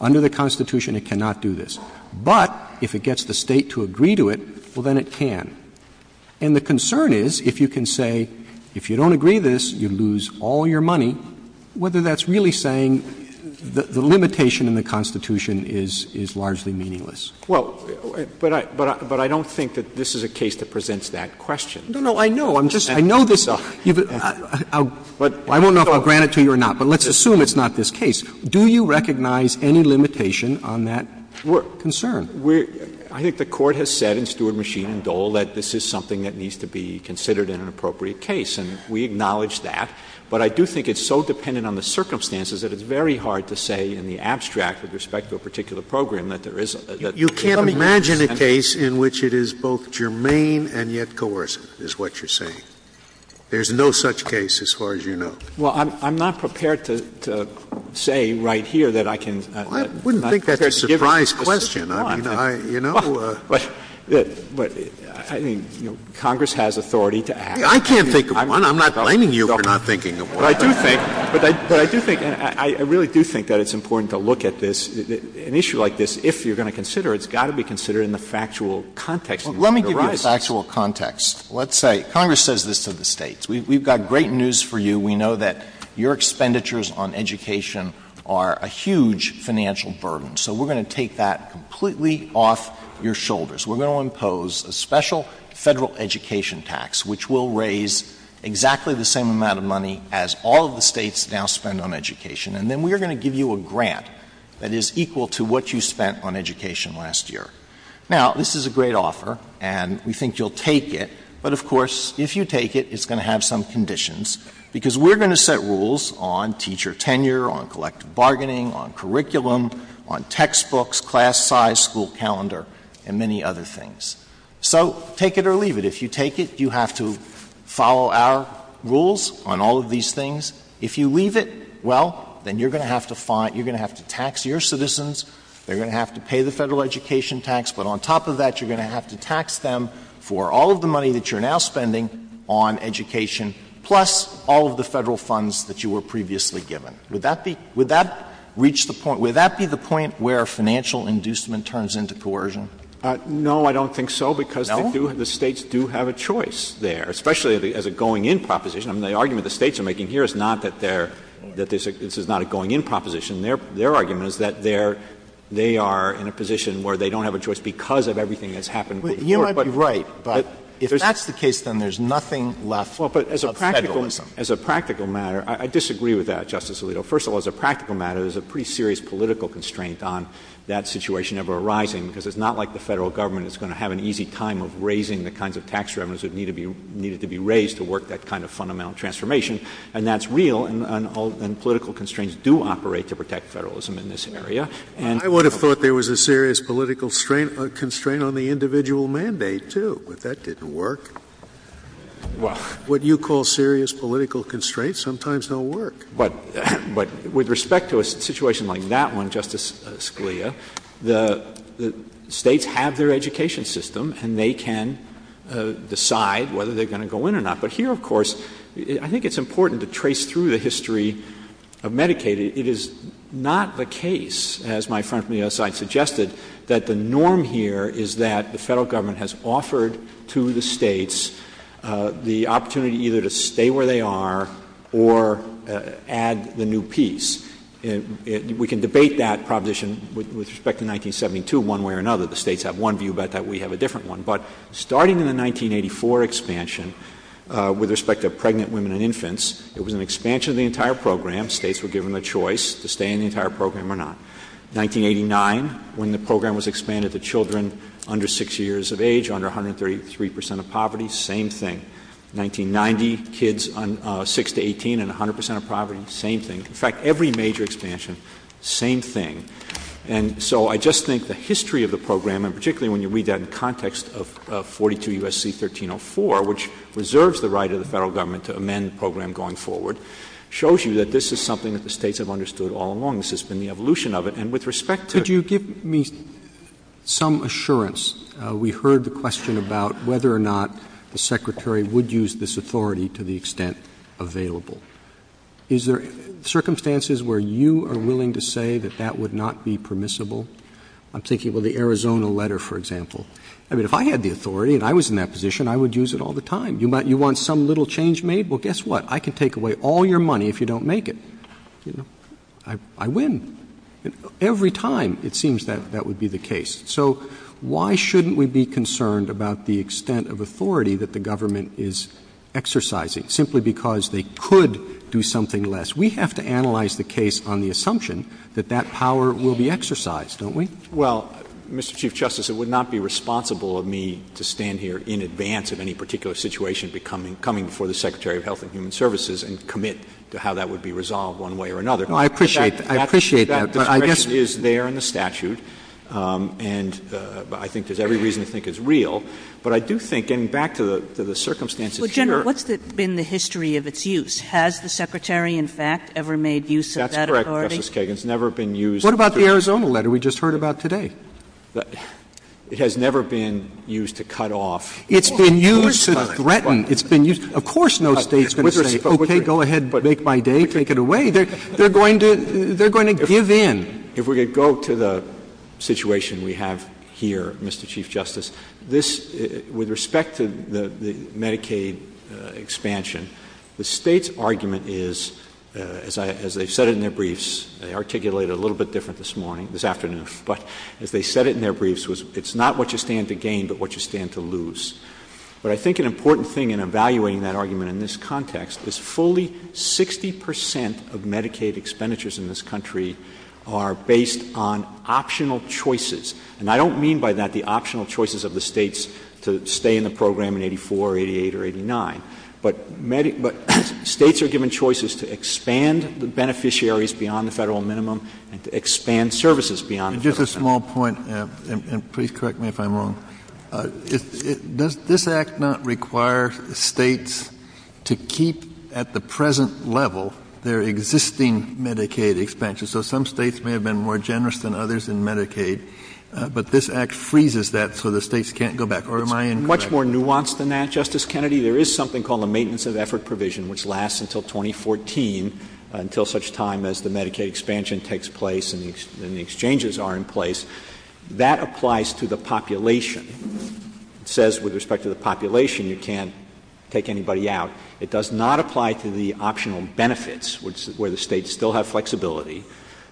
Under the Constitution, it cannot do this. But if it gets the State to agree to it, well, then it can. And the concern is, if you can say, if you don't agree to this, you lose all your money, whether that's really saying the limitation in the Constitution is largely meaningless. Well, but I don't think that this is a case that presents that question. No, no, I know. I know this stuff. I won't know if I'll grant it to you or not, but let's assume it's not this case. Do you recognize any limitation on that concern? We're – I think the Court has said in Steward, Machine, and Dole that this is something that needs to be considered in an appropriate case, and we acknowledge that. But I do think it's so dependent on the circumstances that it's very hard to say in the abstract, with respect to a particular program, that there isn't. You can't imagine a case in which it is both germane and yet coercive, is what you're saying. There's no such case, as far as you know. Well, I'm not prepared to say right here that I can – I wouldn't think that's a surprise question. I mean, I – you know. But I think Congress has authority to act. I can't think of one. I'm not blaming you for not thinking of one. But I do think – but I do think – I really do think that it's important to look at this. An issue like this, if you're going to consider it, has got to be considered in the factual context. Let me give you the factual context. Let's say Congress says this to the States. We've got great news for you. We know that your expenditures on education are a huge financial burden. So we're going to take that completely off your shoulders. We're going to impose a special federal education tax, which will raise exactly the same amount of money as all of the states now spend on education. And then we're going to give you a grant that is equal to what you spent on education last year. Now, this is a great offer, and we think you'll take it. But, of course, if you take it, it's going to have some conditions, because we're going to set rules on teacher tenure, on collective bargaining, on curriculum, on textbooks, class size, school calendar, and many other things. So take it or leave it. If you take it, you have to follow our rules on all of these things. If you leave it, well, then you're going to have to tax your citizens. They're going to have to pay the federal education tax. But on top of that, you're going to have to tax them for all of the money that you're now spending on education, plus all of the federal funds that you were previously given. Would that be the point where financial inducement turns into coercion? No, I don't think so, because the states do have a choice there, especially as a going-in proposition. I mean, the argument the states are making here is not that this is not a going-in proposition. Their argument is that they are in a position where they don't have a choice because of everything that's happened before. You might be right, but if that's the case, then there's nothing left of federalism. Well, but as a practical matter, I disagree with that, Justice Alito. First of all, as a practical matter, there's a pretty serious political constraint on that situation ever arising, because it's not like the Federal Government is going to have an easy time of raising the kinds of tax revenues that need to be raised to work that kind of fundamental transformation. And that's real, and political constraints do operate to protect federalism in this area. I would have thought there was a serious political constraint on the individual mandate, too. But that didn't work. What you call serious political constraints sometimes don't work. But with respect to a situation like that one, Justice Scalia, the states have their education system, and they can decide whether they're going to go in or not. But here, of course, I think it's important to trace through the history of Medicaid. It is not the case, as my friend from the other side suggested, that the norm here is that the Federal Government has offered to the states the opportunity either to stay where they are or add the new piece. We can debate that proposition with respect to 1972 one way or another. The states have one view about that. We have a different one. But starting in the 1984 expansion, with respect to pregnant women and infants, it was an expansion of the entire program. States were given the choice to stay in the entire program or not. 1989, when the program was expanded to children under 6 years of age, under 133 percent of poverty, same thing. 1990, kids 6 to 18 and 100 percent of poverty, same thing. In fact, every major expansion, same thing. And so I just think the history of the program, and particularly when you read that in context of 42 U.S.C. 1304, which reserves the right of the Federal Government to amend the program going forward, shows you that this is something that the states have understood all along. This has been the evolution of it. And with respect to- Could you give me some assurance? We heard the question about whether or not the Secretary would use this authority to the extent available. Is there circumstances where you are willing to say that that would not be permissible? I'm thinking, well, the Arizona letter, for example. I mean, if I had the authority and I was in that position, I would use it all the time. You want some little change made? Well, guess what? I can take away all your money if you don't make it. I win. Every time, it seems that that would be the case. So why shouldn't we be concerned about the extent of authority that the government is exercising, simply because they could do something less? We have to analyze the case on the assumption that that power will be exercised, don't we? Well, Mr. Chief Justice, it would not be responsible of me to stand here in advance of any particular situation coming before the Secretary of Health and Human Services and commit to how that would be resolved one way or another. I appreciate that. The direction is there in the statute, and I think there's every reason to think it's real. But I do think, getting back to the circumstances here. Well, General, what's been the history of its use? Has the Secretary, in fact, ever made use of that authority? That's correct, Justice Kagan. It's never been used. What about the Arizona letter we just heard about today? It has never been used to cut off. It's been used to threaten. Of course no state's going to say, okay, go ahead, make my day, take it away. They're going to give in. If we're going to go to the situation we have here, Mr. Chief Justice, with respect to the Medicaid expansion, the state's argument is, as they said in their briefs, they articulated it a little bit different this morning, this afternoon, but as they said it in their briefs, it's not what you stand to gain but what you stand to lose. But I think an important thing in evaluating that argument in this context is fully 60 percent of Medicaid expenditures in this country are based on optional choices. And I don't mean by that the optional choices of the states to stay in the program in 84, 88, or 89. But states are given choices to expand the beneficiaries beyond the federal minimum and to expand services beyond the federal minimum. Just a small point, and please correct me if I'm wrong. Does this act not require states to keep at the present level their existing Medicaid expansion? So some states may have been more generous than others in Medicaid, but this act freezes that so the states can't go back. Or am I incorrect? It's much more nuanced than that, Justice Kennedy. There is something called a maintenance of effort provision which lasts until 2014, until such time as the Medicaid expansion takes place and the exchanges are in place. That applies to the population. It says with respect to the population you can't take anybody out. It does not apply to the optional benefits where the states still have flexibility.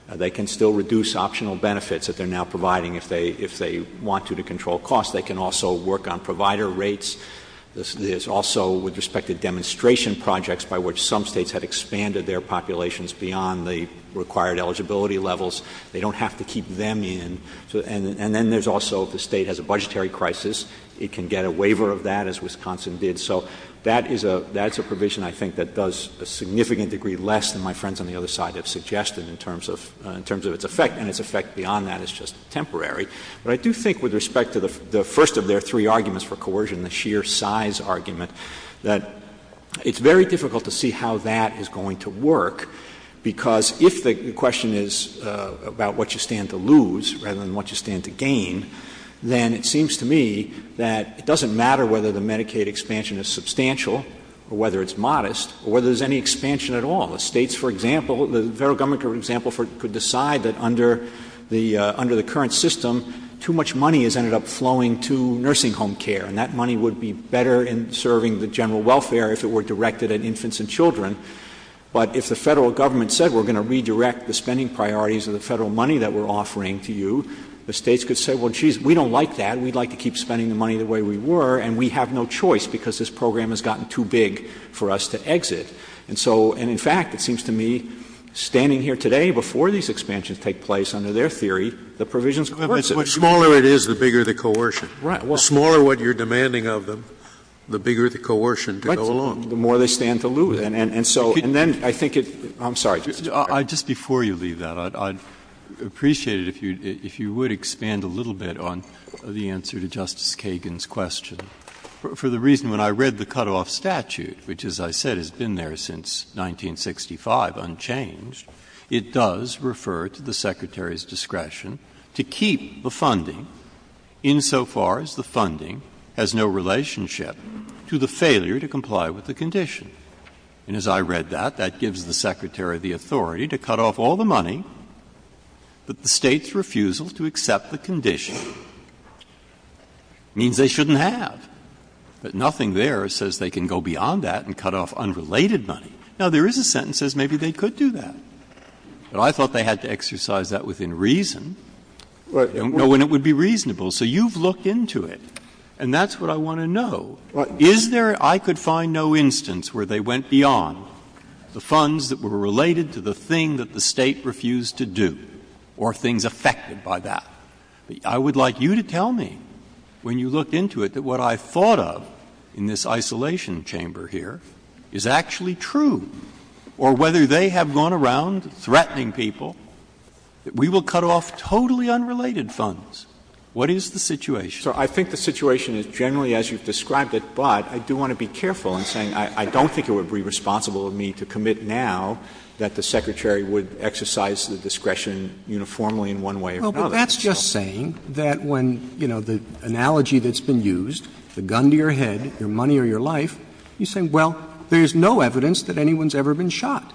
They can still reduce optional benefits if they're now providing, if they want to, to control costs. They can also work on provider rates. There's also with respect to demonstration projects by which some states have expanded their populations beyond the required eligibility levels. They don't have to keep them in. And then there's also the state has a budgetary crisis. It can get a waiver of that, as Wisconsin did. So that is a provision I think that does a significant degree less than my friends on the other side have suggested in terms of its effect. And its effect beyond that is just temporary. But I do think with respect to the first of their three arguments for coercion, the sheer size argument, that it's very difficult to see how that is going to work because if the question is about what you stand to lose rather than what you stand to gain, then it seems to me that it doesn't matter whether the Medicaid expansion is substantial or whether it's modest or whether there's any expansion at all. The states, for example, the federal government, for example, could decide that under the current system, too much money has ended up flowing to nursing home care. And that money would be better in serving the general welfare if it were directed at infants and children. But if the federal government said we're going to redirect the spending priorities of the federal money that we're offering to you, the states could say, well, geez, we don't like that. We'd like to keep spending the money the way we were. And we have no choice because this program has gotten too big for us to exit. And in fact, it seems to me standing here today before these expansions take place under their theory, the provisions of the principle. The smaller it is, the bigger the coercion. Right. The smaller what you're demanding of them, the bigger the coercion to go along. The more they stand to lose. I'm sorry. Just before you leave that, I'd appreciate it if you would expand a little bit on the answer to Justice Kagan's question. For the reason when I read the cutoff statute, which, as I said, has been there since 1965 unchanged, it does refer to the secretary's discretion to keep the funding insofar as the funding has no relationship to the failure to comply with the condition. And as I read that, that gives the secretary the authority to cut off all the money. But the state's refusal to accept the condition means they shouldn't have. But nothing there says they can go beyond that and cut off unrelated money. Now, there is a sentence that says maybe they could do that. But I thought they had to exercise that within reason, when it would be reasonable. So you've looked into it. And that's what I want to know. I could find no instance where they went beyond the funds that were related to the thing that the state refused to do or things affected by that. I would like you to tell me, when you look into it, that what I thought of in this isolation chamber here is actually true. Or whether they have gone around threatening people that we will cut off totally unrelated funds. What is the situation? So I think the situation is generally as you described it. But I do want to be careful in saying I don't think it would be responsible of me to commit now that the secretary would exercise the discretion uniformly in one way or another. Well, that's just saying that when, you know, the analogy that's been used, the gun to your head, your money or your life, you say, well, there's no evidence that anyone's ever been shot.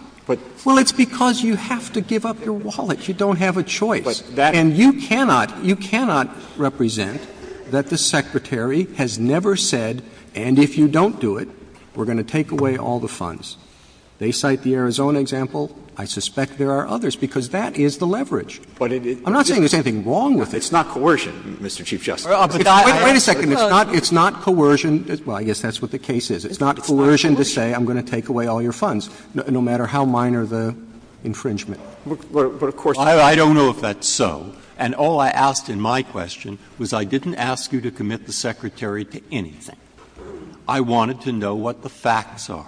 Well, it's because you have to give up your wallet. You don't have a choice. And you cannot, you cannot represent that the secretary has never said, and if you don't do it, we're going to take away all the funds. They cite the Arizona example. I suspect there are others, because that is the leverage. I'm not saying there's anything wrong with it. It's not coercion, Mr. Chief Justice. Wait a second. It's not coercion. Well, I guess that's what the case is. It's not coercion to say I'm going to take away all your funds, no matter how minor the infringement. I don't know if that's so. And all I asked in my question was I didn't ask you to commit the secretary to anything. I wanted to know what the facts are.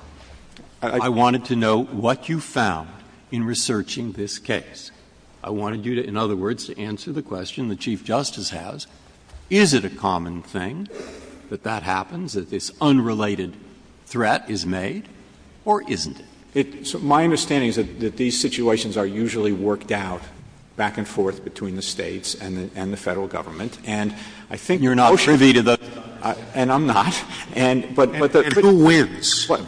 I wanted to know what you found in researching this case. I wanted you to, in other words, answer the question the Chief Justice has. Is it a common thing that that happens, that this unrelated threat is made, or isn't it? My understanding is that these situations are usually worked out back and forth between the states and the federal government. And I think you're not privy to that. And I'm not. And who wins? That's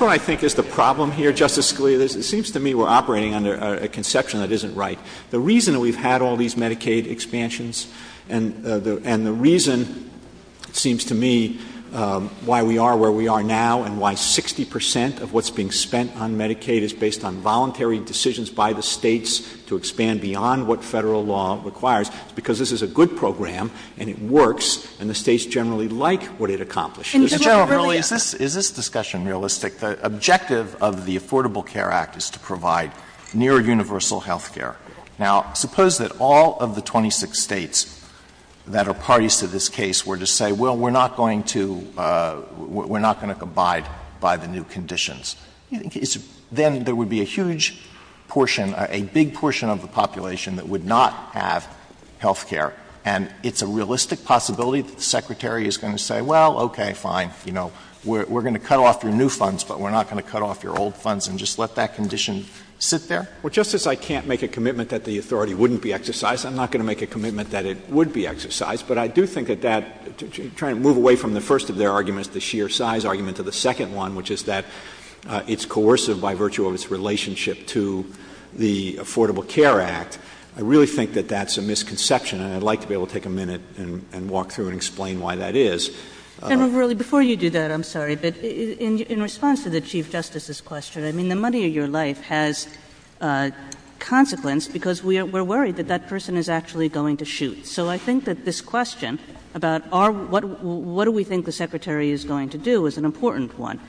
what I think is the problem here, Justice Scalia. It seems to me we're operating under a conception that isn't right. The reason that we've had all these Medicaid expansions, and the reason, it seems to me, why we are where we are now, and why 60 percent of what's being spent on Medicaid is based on voluntary decisions by the states to expand beyond what federal law requires, is because this is a good program, and it works, and the states generally like what it accomplishes. Is this discussion realistic? The objective of the Affordable Care Act is to provide near universal health care. Now, suppose that all of the 26 states that are parties to this case were to say, well, we're not going to abide by the new conditions. Then there would be a huge portion, a big portion of the population that would not have health care. And it's a realistic possibility that the Secretary is going to say, well, okay, fine. You know, we're going to cut off your new funds, but we're not going to cut off your old funds and just let that condition sit there? Well, Justice, I can't make a commitment that the authority wouldn't be exercised. I'm not going to make a commitment that it would be exercised. But I do think that that — trying to move away from the first of their arguments, the sheer size argument, to the second one, which is that it's coercive by virtue of its relationship to the Affordable Care Act, I really think that that's a misconception. And I'd like to be able to take a minute and walk through and explain why that is. And really, before you do that, I'm sorry, but in response to the Chief Justice's question, I mean, the money of your life has consequence because we're worried that that person is actually going to shoot. So I think that this question about what do we think the Secretary is going to do is an important one.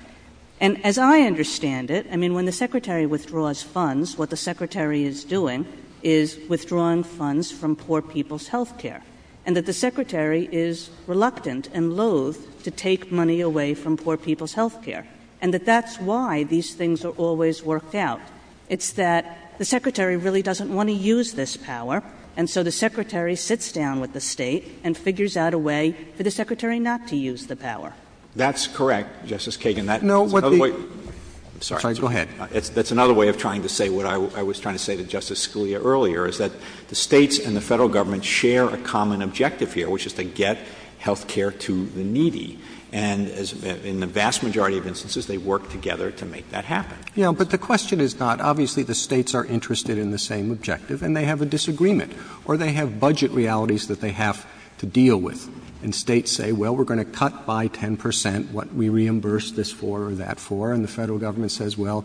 And as I understand it, I mean, when the Secretary withdraws funds, what the Secretary is doing is withdrawing funds from poor people's health care, and that the Secretary is reluctant and loath to take money away from poor people's health care, and that that's why these things are always worked out. It's that the Secretary really doesn't want to use this power, and so the Secretary sits down with the state and figures out a way for the Secretary not to use the power. That's correct, Justice Kagan. No, what the — I'm sorry. Go ahead. That's another way of trying to say what I was trying to say to Justice Scalia earlier, is that the states and the federal government share a common objective here, which is to get health care to the needy. And in the vast majority of instances, they work together to make that happen. Yeah, but the question is not, obviously the states are interested in the same objective, and they have a disagreement, or they have budget realities that they have to deal with. And states say, well, we're going to cut by 10 percent what we reimburse this for or that for, and the federal government says, well,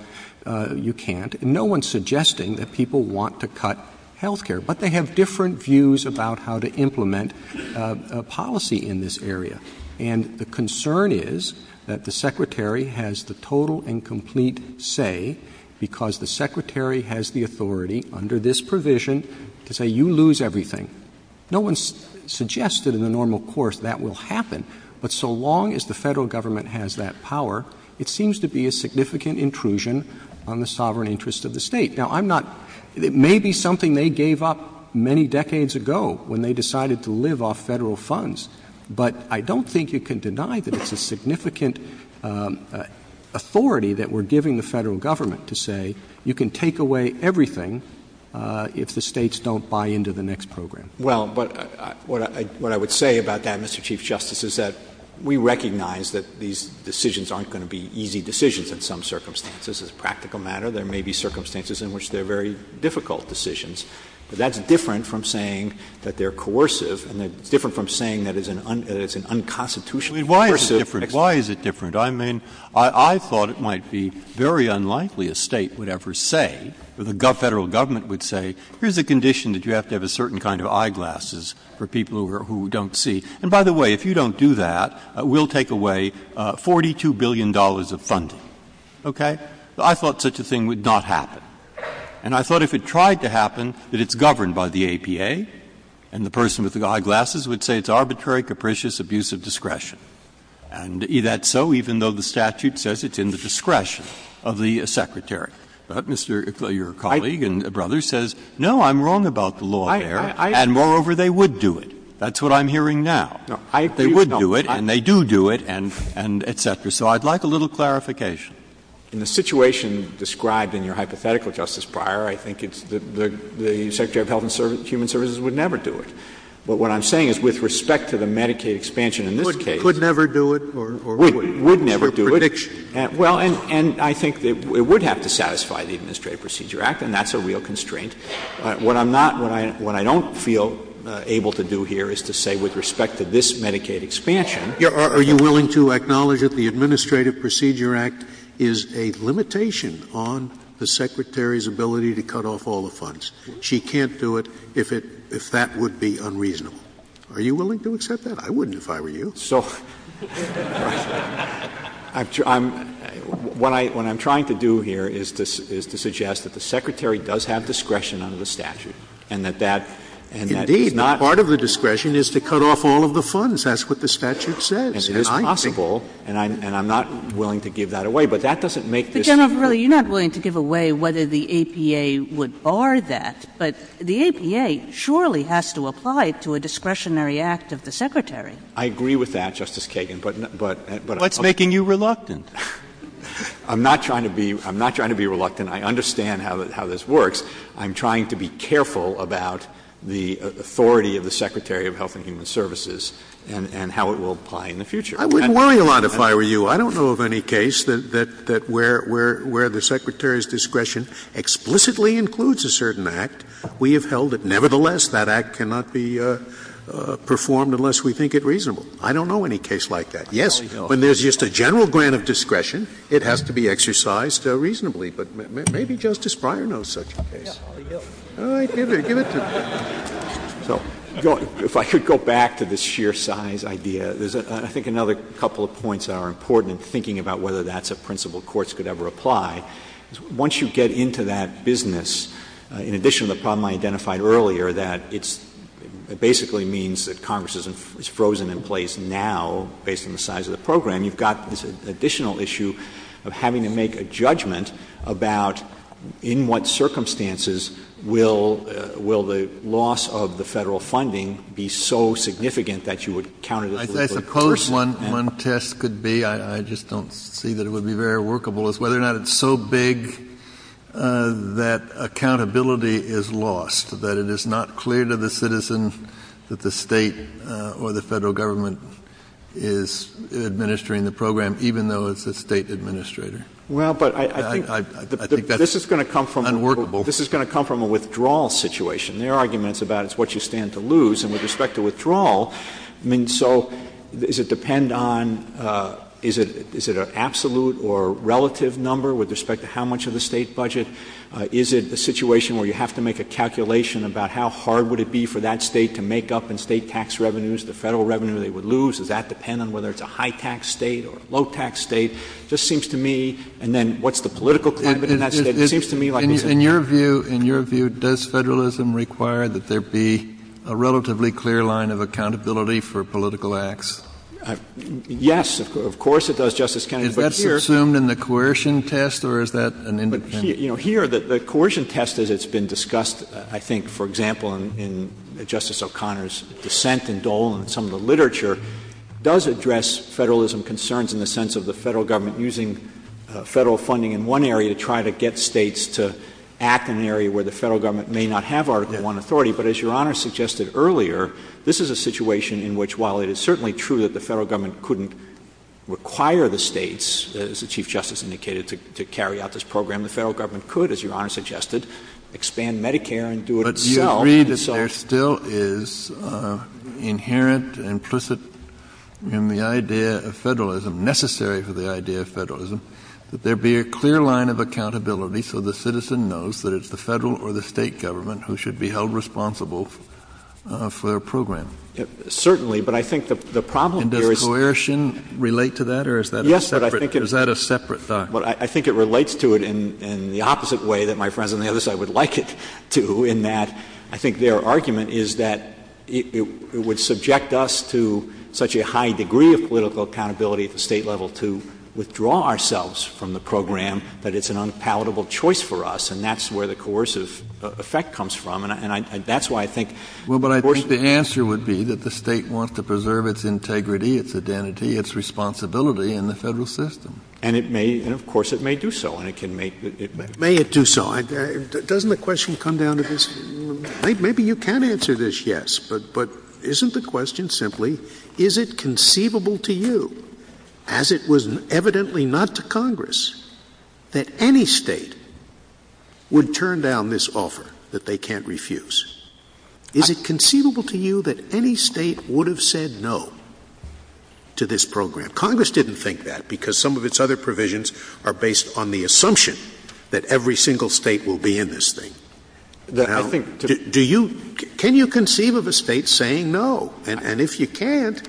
you can't. No one's suggesting that people want to cut health care, but they have different views about how to implement a policy in this area. And the concern is that the Secretary has the total and complete say, because the Secretary has the authority under this provision to say, you lose everything. No one suggests that in the normal course that will happen. But so long as the federal government has that power, it seems to be a significant intrusion on the sovereign interest of the state. Now, I'm not, it may be something they gave up many decades ago when they decided to live off federal funds, but I don't think you can deny that it's a significant authority that we're giving the federal government to say, you can take away everything if the states don't buy into the next program. Well, but what I would say about that, Mr. Chief Justice, is that we recognize that these decisions aren't going to be easy decisions in some circumstances. It's a practical matter. There may be circumstances in which they're very difficult decisions, but that's different from saying that they're coercive and different from saying that it's an unconstitutional coercive exercise. Why is it different? I mean, I thought it might be very unlikely a state would ever say, or the federal government would say, here's a condition that you have to have a certain kind of eyeglasses for people who don't see. And by the way, if you don't do that, we'll take away $42 billion of funding. Okay. I thought such a thing would not happen. And I thought if it tried to happen, that it's governed by the APA, and the person with the eyeglasses would say it's arbitrary, capricious, abusive discretion. And that's so even though the statute says it's in the discretion of the Secretary. But your colleague and brother says, no, I'm wrong about the law there. And moreover, they would do it. That's what I'm hearing now. They would do it, and they do do it, and et cetera. So I'd like a little clarification. In the situation described in your hypothetical, Justice Breyer, I think the Secretary of Health and Human Services would never do it. But what I'm saying is with respect to the Medicaid expansion in this case. Would never do it? Would never do it. Well, and I think it would have to satisfy the Administrative Procedure Act, and that's a real constraint. What I don't feel able to do here is to say with respect to this Medicaid expansion. Are you willing to acknowledge that the Administrative Procedure Act is a limitation on the Secretary's ability to cut off all the funds? She can't do it if that would be unreasonable. Are you willing to accept that? I wouldn't if I were you. So what I'm trying to do here is to suggest that the Secretary does have discretion under the statute. Indeed, part of the discretion is to cut off all of the funds. That's what the statute says. And it is possible, and I'm not willing to give that away. But, General Verrilli, you're not willing to give away whether the APA would bar that. But the APA surely has to apply it to a discretionary act of the Secretary. I agree with that, Justice Kagan. What's making you reluctant? I'm not trying to be reluctant. I understand how this works. I'm trying to be careful about the authority of the Secretary of Health and Human Services and how it will apply in the future. I wouldn't mind if I were you. I don't know of any case where the Secretary's discretion explicitly includes a certain act. We have held it nevertheless. That act cannot be performed unless we think it reasonable. I don't know any case like that. Yes, when there's just a general grant of discretion, it has to be exercised reasonably. But maybe Justice Breyer knows such a case. All right, give it to him. If I could go back to this sheer size idea, I think another couple of points are important in thinking about whether that's a principle courts could ever apply. Once you get into that business, in addition to the problem I identified earlier that it basically means that Congress is frozen in place now, based on the size of the program, you've got this additional issue of having to make a judgment about in what circumstances will the loss of the federal funding be so significant that you would counter this? I suppose one test could be, I just don't see that it would be very workable, is whether or not it's so big that accountability is lost, that it is not clear to the citizens that the state or the federal government is administering the program, even though it's a state administrator. This is going to come from a withdrawal situation. There are arguments about it's what you stand to lose. I mean, so does it depend on, is it an absolute or relative number with respect to how much of the state budget? Is it a situation where you have to make a calculation about how hard would it be for that state to make up in state tax revenues the federal revenue they would lose? Does that depend on whether it's a high-tax state or a low-tax state? It just seems to me, and then what's the political climate in that state? In your view, does federalism require that there be a relatively clear line of accountability for political acts? Yes, of course it does, Justice Kennedy. Is that assumed in the coercion test or is that an indication? Here, the coercion test, as it's been discussed, I think, for example, in Justice O'Connor's dissent in Dole and some of the literature, does address federalism concerns in the sense of the federal government using federal funding in one area to try to get states to act in an area where the federal government may not have Article I authority. But as Your Honor suggested earlier, this is a situation in which while it is certainly true that the federal government couldn't require the states, as the Chief Justice indicated, to carry out this program, the federal government could, as Your Honor suggested, expand Medicare and do it itself. Do you agree that there still is inherent, implicit in the idea of federalism, necessary for the idea of federalism, that there be a clear line of accountability so the citizen knows that it's the federal or the state government who should be held responsible for a program? Certainly, but I think the problem here is... And does coercion relate to that or is that a separate thought? Well, I think it relates to it in the opposite way that my friends on the other side would like it to, in that I think their argument is that it would subject us to such a high degree of political accountability at the state level to withdraw ourselves from the program that it's an unpalatable choice for us, and that's where the coercive effect comes from, and that's why I think... Well, but I think the answer would be that the state wants to preserve its integrity, its identity, its responsibility in the federal system. And of course it may do so. May it do so. Doesn't the question come down to this? Maybe you can answer this yes, but isn't the question simply, is it conceivable to you, as it was evidently not to Congress, that any state would turn down this offer that they can't refuse? Is it conceivable to you that any state would have said no to this program? Congress didn't think that because some of its other provisions are based on the assumption that every single state will be in this thing. Can you conceive of a state saying no? And if you can't,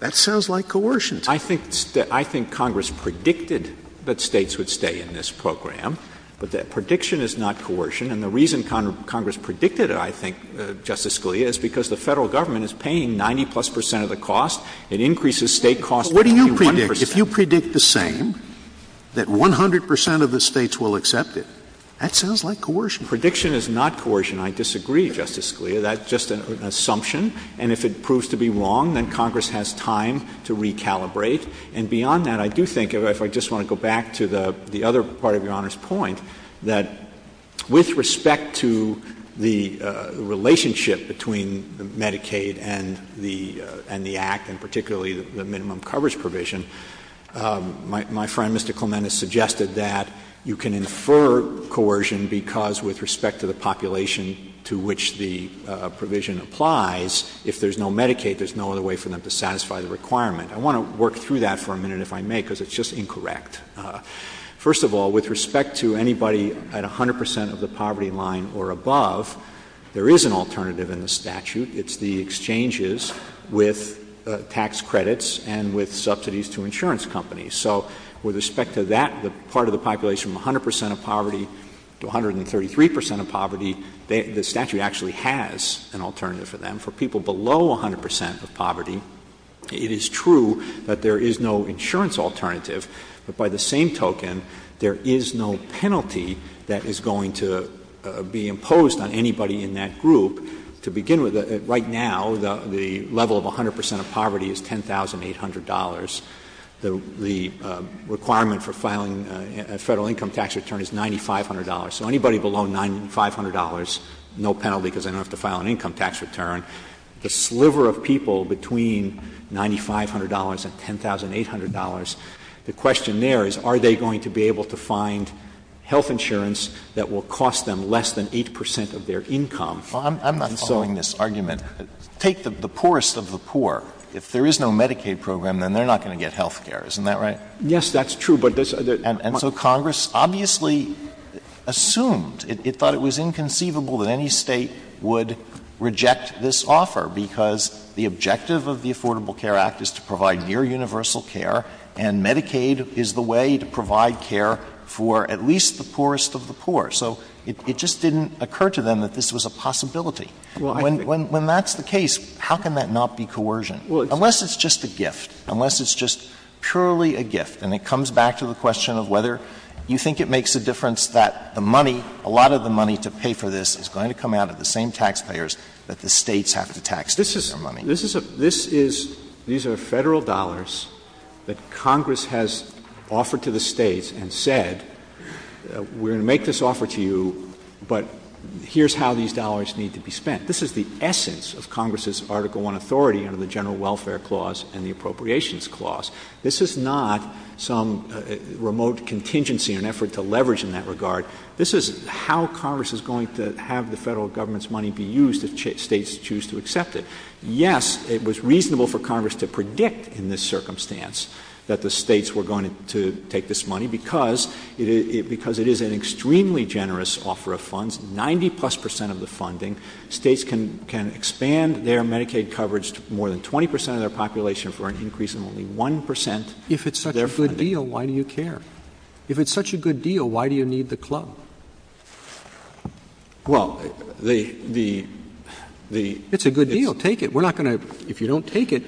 that sounds like coercion. I think Congress predicted that states would stay in this program, but that prediction is not coercion. And the reason Congress predicted it, I think, Justice Scalia, is because the federal government is paying 90-plus percent of the cost. It increases state costs by 81 percent. But what do you predict? If you predict the same, that 100 percent of the states will accept it, that sounds like coercion. Prediction is not coercion. I disagree, Justice Scalia. That's just an assumption. And if it proves to be wrong, then Congress has time to recalibrate. And beyond that, I do think, if I just want to go back to the other part of Your Honor's point, that with respect to the relationship between Medicaid and the Act, and particularly the minimum coverage provision, my friend, Mr. Coleman, has suggested that you can infer coercion because with respect to the population to which the provision applies, if there's no Medicaid, there's no other way for them to satisfy the requirement. I want to work through that for a minute, if I may, because it's just incorrect. First of all, with respect to anybody at 100 percent of the poverty line or above, there is an alternative in the statute. It's the exchanges with tax credits and with subsidies to insurance companies. So with respect to that part of the population, 100 percent of poverty to 133 percent of poverty, the statute actually has an alternative for them. For people below 100 percent of poverty, it is true that there is no insurance alternative, but by the same token, there is no penalty that is going to be imposed on anybody in that group. To begin with, right now, the level of 100 percent of poverty is $10,800. The requirement for filing a federal income tax return is $9,500. So anybody below $9,500, no penalty because they don't have to file an income tax return. The sliver of people between $9,500 and $10,800, the question there is are they going to be able to find health insurance that will cost them less than 8 percent of their income? I'm following this argument. Take the poorest of the poor. If there is no Medicaid program, then they're not going to get health care. Isn't that right? Yes, that's true. And so Congress obviously assumed, it thought it was inconceivable that any state would reject this offer because the objective of the Affordable Care Act is to provide near universal care, and Medicaid is the way to provide care for at least the poorest of the poor. So it just didn't occur to them that this was a possibility. When that's the case, how can that not be coercion? Unless it's just a gift. Unless it's just purely a gift. And it comes back to the question of whether you think it makes a difference that the money, a lot of the money to pay for this is going to come out of the same taxpayers that the states have to tax their money. These are Federal dollars that Congress has offered to the states and said we're going to make this offer to you, but here's how these dollars need to be spent. This is the essence of Congress's Article I authority under the General Welfare Clause and the Appropriations Clause. This is not some remote contingency, an effort to leverage in that regard. This is how Congress is going to have the Federal government's money be used if states choose to accept it. Yes, it was reasonable for Congress to predict in this circumstance that the states were going to take this money because it is an extremely generous offer of funds, 90 plus percent of the funding. States can expand their Medicaid coverage to more than 20 percent of their population for an increase of only 1 percent. If it's such a good deal, why do you care? If it's such a good deal, why do you need the club? It's a good deal. Take it. If you don't take it,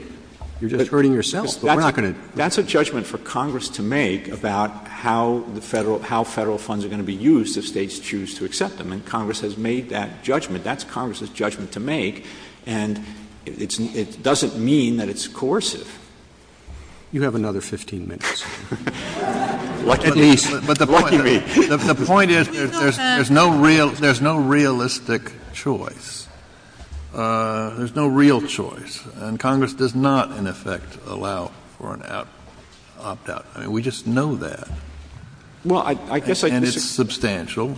you're just hurting yourself. That's a judgment for Congress to make about how Federal funds are going to be used if states choose to accept them, and Congress has made that judgment. That's Congress's judgment to make, and it doesn't mean that it's coercive. You have another 15 minutes. The point is there's no realistic choice. There's no real choice, and Congress does not, in effect, allow for an opt-out. We just know that, and it's substantial.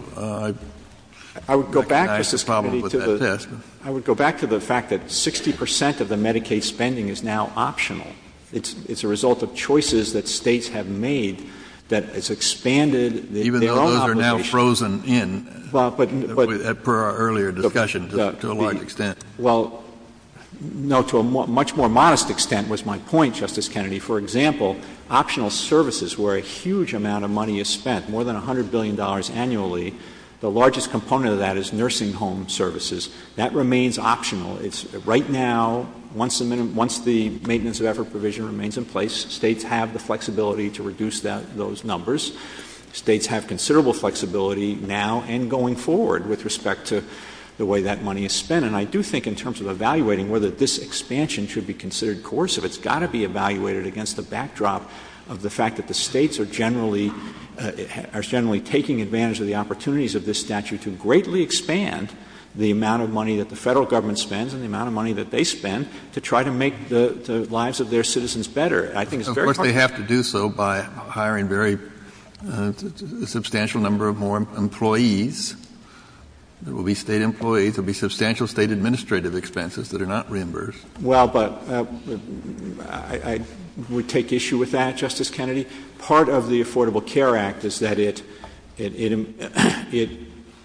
I would go back to the fact that 60 percent of the Medicaid spending is now optional. It's a result of choices that states have made that it's expanded. Even though those are now frozen in, per our earlier discussion, to a large extent. Well, no, to a much more modest extent was my point, Justice Kennedy. For example, optional services, where a huge amount of money is spent, more than $100 billion annually, the largest component of that is nursing home services. That remains optional. Right now, once the maintenance of effort provision remains in place, states have the flexibility to reduce those numbers. States have considerable flexibility now and going forward with respect to the way that money is spent, and I do think in terms of evaluating whether this expansion should be considered coercive, it's got to be evaluated against the backdrop of the fact that the states are generally taking advantage of the opportunities of this statute to greatly expand the amount of money that the Federal Government spends and the amount of money that they spend to try to make the lives of their citizens better. I think it's very important. Of course, they have to do so by hiring a substantial number of more employees. There will be state employees. There will be substantial state administrative expenses that are not reimbursed. Well, but I would take issue with that, Justice Kennedy. Part of the Affordable Care Act is that it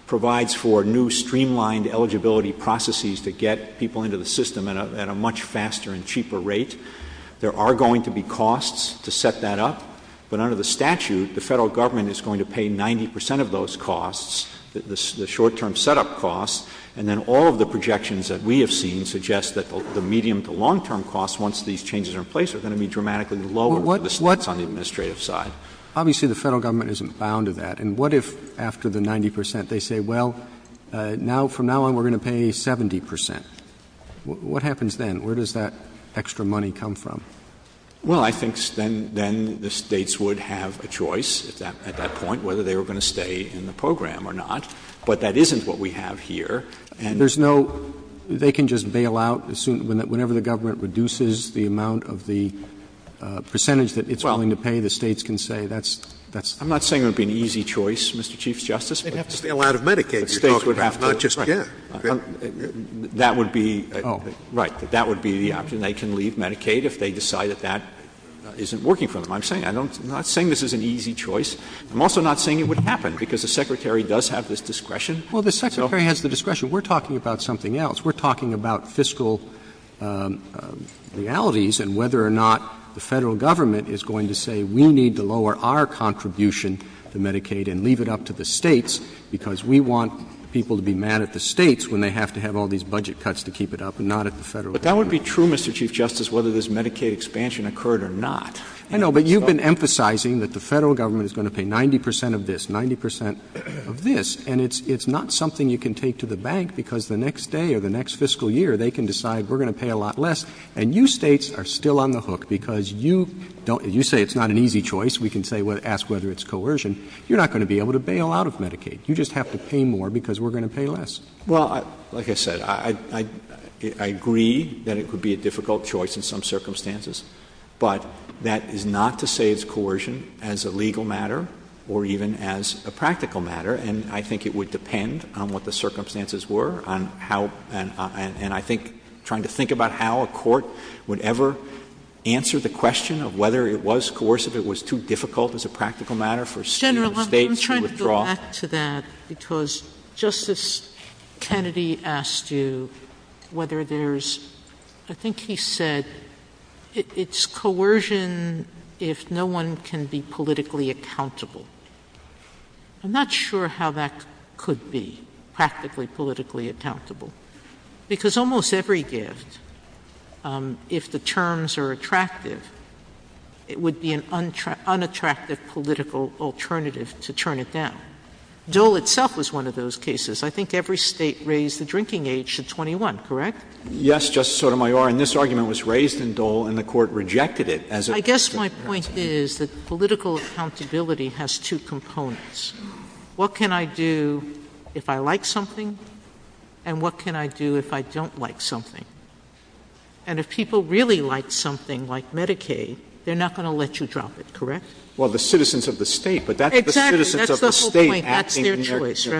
provides for new streamlined eligibility processes to get people into the system at a much faster and cheaper rate. There are going to be costs to set that up, but under the statute, the Federal Government is going to pay 90 percent of those costs, the short-term setup costs, and then all of the projections that we have seen suggest that the medium- term costs, once these changes are in place, are going to be dramatically lower for the sluts on the administrative side. Obviously, the Federal Government isn't bound to that. And what if after the 90 percent, they say, well, from now on, we're going to pay 70 percent? What happens then? Where does that extra money come from? Well, I think then the states would have a choice at that point whether they were going to stay in the program or not. But that isn't what we have here. And there's no — they can just bail out whenever the government reduces the amount of the percentage that it's willing to pay. The states can say that's — I'm not saying it would be an easy choice, Mr. Chief Justice. They'd have to bail out of Medicaid. The states would have to — Not just give. That would be — Oh, right. That would be the option. They can leave Medicaid if they decide that that isn't working for them. I'm saying — I'm not saying this is an easy choice. I'm also not saying it would happen, because the Secretary does have this discretion. Well, the Secretary has the discretion. We're talking about something else. We're talking about fiscal realities and whether or not the Federal Government is going to say we need to lower our contribution to Medicaid and leave it up to the states, because we want people to be mad at the states when they have to have all these budget cuts to keep it up and not at the Federal Government. But that would be true, Mr. Chief Justice, whether this Medicaid expansion occurred or not. I know. But you've been emphasizing that the Federal Government is going to pay 90 percent of this, 90 percent of this. And it's not something you can take to the bank, because the next day or the next fiscal year, they can decide we're going to pay a lot less. And you states are still on the hook, because you — you say it's not an easy choice. We can ask whether it's coercion. You're not going to be able to bail out of Medicaid. You just have to pay more, because we're going to pay less. Well, like I said, I agree that it would be a difficult choice in some circumstances. But that is not to say it's coercion as a legal matter or even as a practical matter. And I think it would depend on what the circumstances were and how — and I think trying to think about how a court would ever answer the question of whether it was coercive, it was too difficult as a practical matter for states to withdraw. General, I'm trying to go back to that, because Justice Kennedy asked you whether there's — I think he said it's coercion if no one can be politically accountable. I'm not sure how that could be practically politically accountable, because almost every gift, if the terms are attractive, it would be an unattractive political alternative to turn it down. Dole itself was one of those cases. I think every state raised the drinking age to 21, correct? Yes, Justice Sotomayor. And this argument was raised in Dole, and the Court rejected it as a — Well, I guess my point is that political accountability has two components. What can I do if I like something, and what can I do if I don't like something? And if people really like something, like Medicaid, they're not going to let you drop it, correct? Well, the citizens of the state — Exactly. That's the whole point. That's their choice. And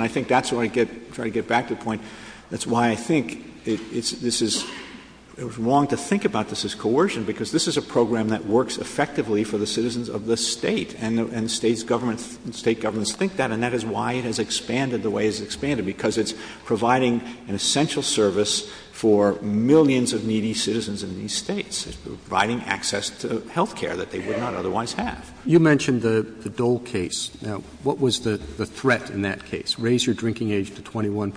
I think that's where I get back to the point. That's why I think this is — wrong to think about this as coercion, because this is a program that works effectively for the citizens of the state, and state governments think that, and that is why it has expanded the way it's expanded, because it's providing an essential service for millions of needy citizens in these states. It's providing access to health care that they would not otherwise have. You mentioned the Dole case. Now, what was the threat in that case? Raise your drinking age to 21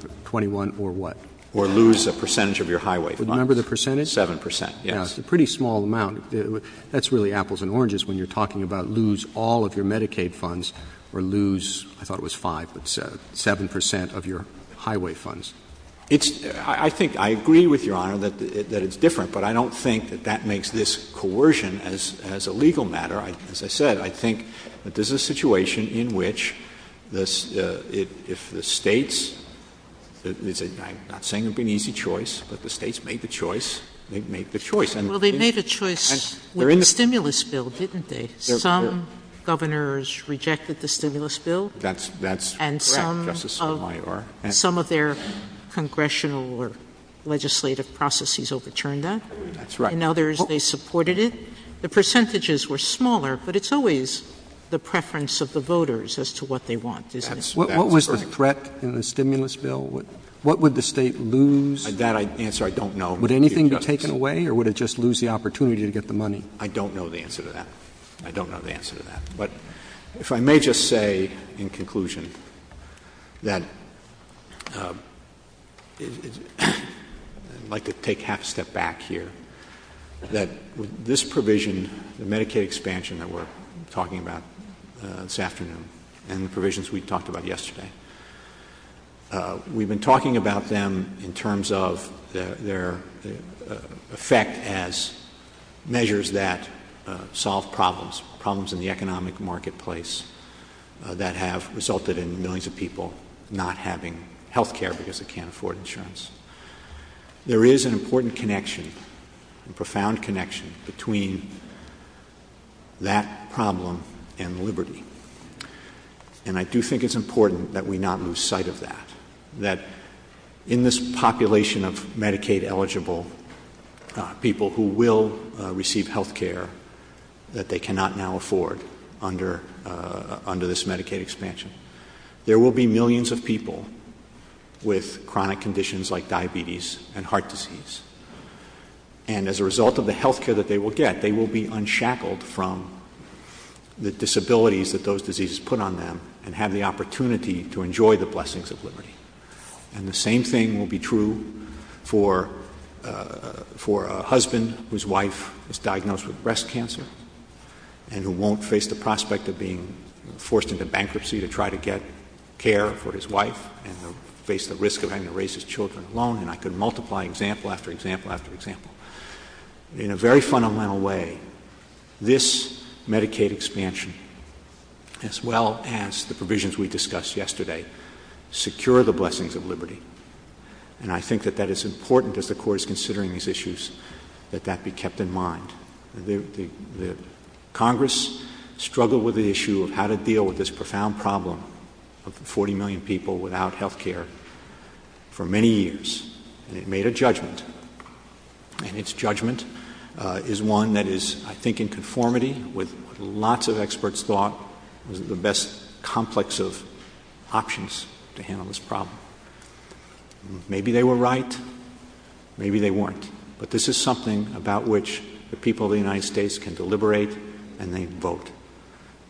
or what? Or lose a percentage of your highway funds. Remember the percentage? 7 percent, yes. It's a pretty small amount. That's really apples and oranges when you're talking about lose all of your Medicaid funds or lose — I thought it was 5, but 7 — 7 percent of your highway funds. I think — I agree with Your Honor that it's different, but I don't think that that makes this coercion as a legal matter. As I said, I think that this is a situation in which the — if the states — I'm not saying it would be an easy choice, but the states made the choice. They made the choice. Well, they made a choice with the stimulus bill, didn't they? Some governors rejected the stimulus bill. And some of their congressional or legislative processes overturned that. That's right. And others, they supported it. The percentages were smaller, but it's always the preference of the voters as to what they want. What was the threat in the stimulus bill? What would the state lose? That answer I don't know. Would anything be taken away, or would it just lose the opportunity to get the money? I don't know the answer to that. I don't know the answer to that. But if I may just say in conclusion that — I'd like to take half a step back here — that this provision, the Medicaid expansion that we're talking about this afternoon, and the provisions we talked about yesterday, we've been talking about them in terms of their effect as measures that solve problems, problems in the economic marketplace that have resulted in millions of people not having health care because they can't afford insurance. There is an important connection, a profound connection, between that problem and liberty. And I do think it's important that we not lose sight of that, that in this population of Medicaid-eligible people who will receive health care that they cannot now afford under this Medicaid expansion, there will be millions of people with chronic conditions like diabetes and heart disease. And as a result of the health care that they will get, they will be unshackled from the disabilities that those diseases put on them and have the opportunity to enjoy the blessings of liberty. And the same thing will be true for a husband whose wife was diagnosed with breast cancer and who won't face the prospect of being forced into bankruptcy to try to get care for his wife and face the risk of having to raise his children alone. And I could multiply example after example after example. In a very fundamental way, this Medicaid expansion, as well as the provisions we discussed yesterday, secure the blessings of liberty. And I think that it's important as the Court is considering these issues that that be kept in mind. Congress struggled with the issue of how to deal with this profound problem of 40 million people without health care for many years. And it made a judgment. And its judgment is one that is, I think, in conformity with what lots of experts thought was the best complex of options to handle this problem. Maybe they were right. Maybe they weren't. But this is something about which the people of the United States can deliberate and they vote.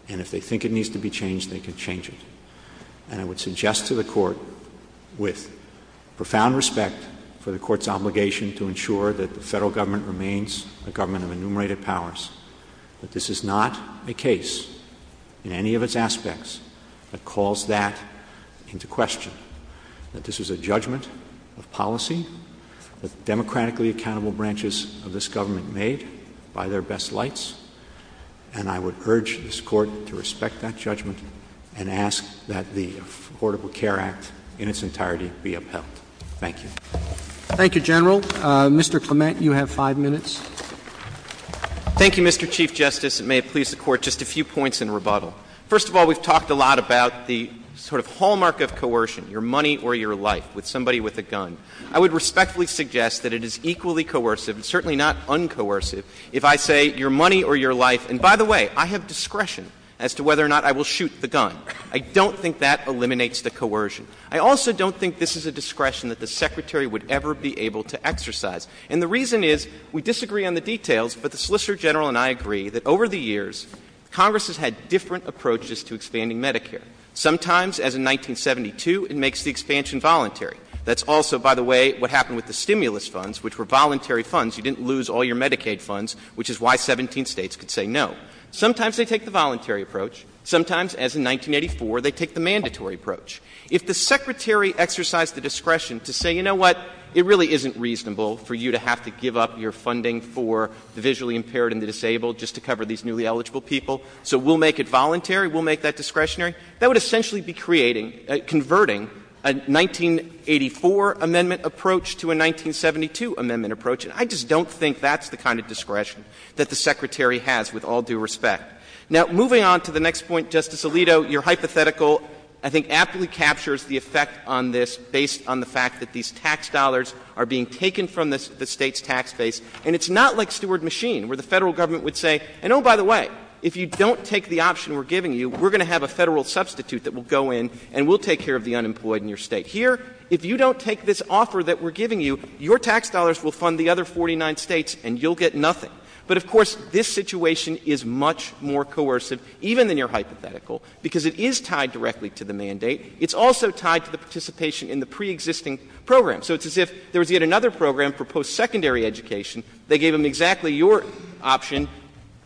And if they think it needs to be changed, they can change it. And I would suggest to the Court, with profound respect for the Court's obligation to ensure that the federal government remains the government of enumerated powers, that this is not a case in any of its aspects that calls that into question. That this is a judgment of policy that democratically accountable branches of this government made by their best lights. And I would urge this Court to respect that judgment and ask that the Affordable Care Act in its entirety be upheld. Thank you. Thank you, General. Mr. Clement, you have five minutes. Thank you, Mr. Chief Justice, and may it please the Court, just a few points in rebuttal. First of all, we've talked a lot about the sort of hallmark of coercion, your money or your life, with somebody with a gun. I would respectfully suggest that it is equally coercive, certainly not uncoercive, if I say your money or your life. And by the way, I have discretion as to whether or not I will shoot the gun. I don't think that eliminates the coercion. I also don't think this is a discretion that the Secretary would ever be able to exercise. And the reason is, we disagree on the details, but the Solicitor General and I agree that over the years, Congress has had different approaches to expanding Medicare. Sometimes, as in 1972, it makes the expansion voluntary. That's also, by the way, what happened with the stimulus funds, which were voluntary funds. You didn't lose all your Medicaid funds, which is why 17 states could say no. Sometimes they take the voluntary approach. Sometimes, as in 1984, they take the mandatory approach. If the Secretary exercised the discretion to say, you know what, it really isn't reasonable for you to have to give up your funding for the visually impaired and the disabled just to cover these newly eligible people, so we'll make it voluntary, we'll make that discretionary, that would essentially be creating, converting a 1984 amendment approach to a 1972 amendment approach. And I just don't think that's the kind of discretion that the Secretary has, with all due respect. Now, moving on to the next point, Justice Alito, your hypothetical, I think, absolutely captures the effect on this, based on the fact that these tax dollars are being taken from the state's tax base. And it's not like Steward Machine, where the federal government would say, and oh, by the way, if you don't take the option we're giving you, we're going to have a federal substitute that will go in, and we'll take care of the unemployed in your state. Here, if you don't take this offer that we're giving you, your tax dollars will fund the other 49 states, and you'll get nothing. But, of course, this situation is much more coercive, even in your hypothetical, because it is tied directly to the mandate. It's also tied to the participation in the preexisting program. So it's as if there was yet another program for post-secondary education, they gave them exactly your option,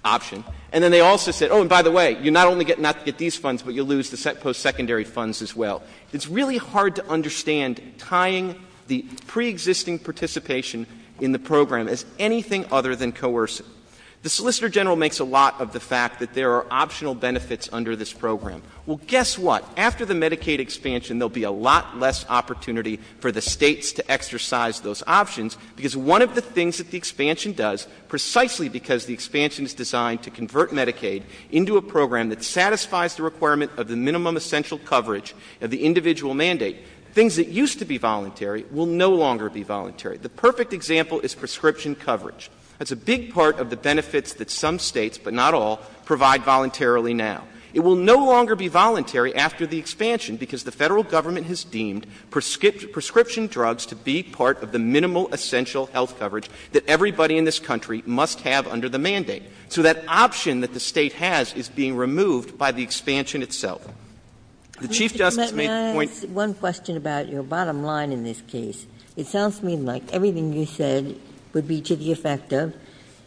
and then they also said, oh, and by the way, you not only get not to get these funds, but you'll lose the post-secondary funds as well. It's really hard to understand tying the preexisting participation in the program as anything other than coercive. The Solicitor General makes a lot of the fact that there are optional benefits under this program. Well, guess what? After the Medicaid expansion, there will be a lot less opportunity for the states to exercise those options, because one of the things that the expansion does, precisely because the expansion is designed to convert Medicaid into a program that satisfies the requirement of the minimum essential coverage of the individual mandate, things that used to be voluntary will no longer be voluntary. The perfect example is prescription coverage. That's a big part of the benefits that some states, but not all, provide voluntarily now. It will no longer be voluntary after the expansion, because the federal government has deemed prescription drugs to be part of the minimal essential health coverage that everybody in this country must have under the mandate. So that option that the state has is being removed by the expansion itself. The Chief Justice makes the point — Mr. Clement, may I ask one question about your bottom line in this case? It sounds to me like everything you said would be to the effect of,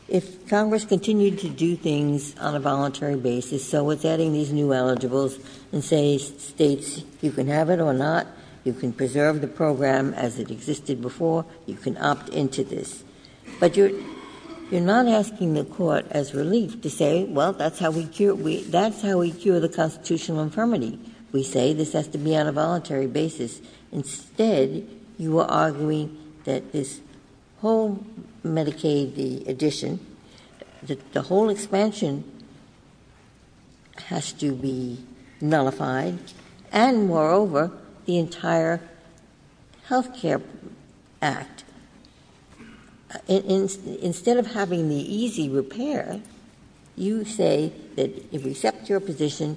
if Congress continued to do things on a voluntary basis, so with getting these new eligibles, and say states, you can have it or not, you can preserve the program as it existed before, you can opt into this. But you're not asking the court as relief to say, well, that's how we cure the constitutional infirmity. We say this has to be on a voluntary basis. Instead, you are arguing that this whole Medicaid addition, the whole expansion has to be nullified, and moreover, the entire health care act. Instead of having the easy repair, you say that if we accept your position,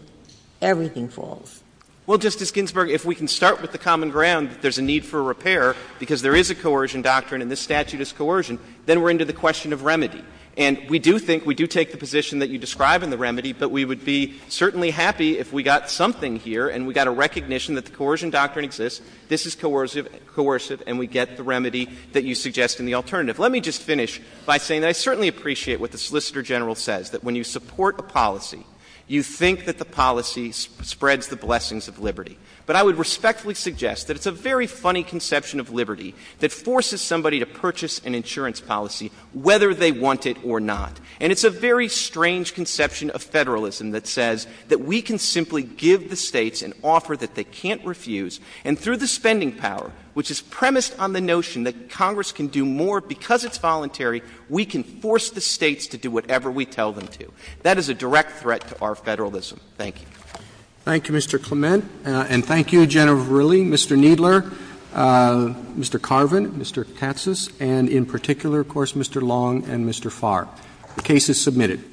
everything falls. Well, Justice Ginsburg, if we can start with the common ground that there's a need for repair, because there is a coercion doctrine and this statute is coercion, then we're into the question of remedy. And we do think, we do take the position that you describe in the remedy, but we would be certainly happy if we got something here, and we got a recognition that the coercion doctrine exists, this is coercive, and we get the remedy that you suggest in the alternative. Let me just finish by saying that I certainly appreciate what the Solicitor General says, that when you support a policy, you think that the policy spreads the blessings of liberty. But I would respectfully suggest that it's a very funny conception of liberty that forces somebody to purchase an insurance policy whether they want it or not. And it's a very strange conception of federalism that says that we can simply give the states an offer that they can't refuse, and through the spending power, which is premised on the notion that Congress can do more because it's voluntary, we can force the states to do whatever we tell them to. That is a direct threat to our federalism. Thank you. Thank you, Mr. Clement. And thank you, General Verrilli, Mr. Kneedler, Mr. Carvin, Mr. Katsas, and in particular, of course, Mr. Long and Mr. Farr. The case is submitted.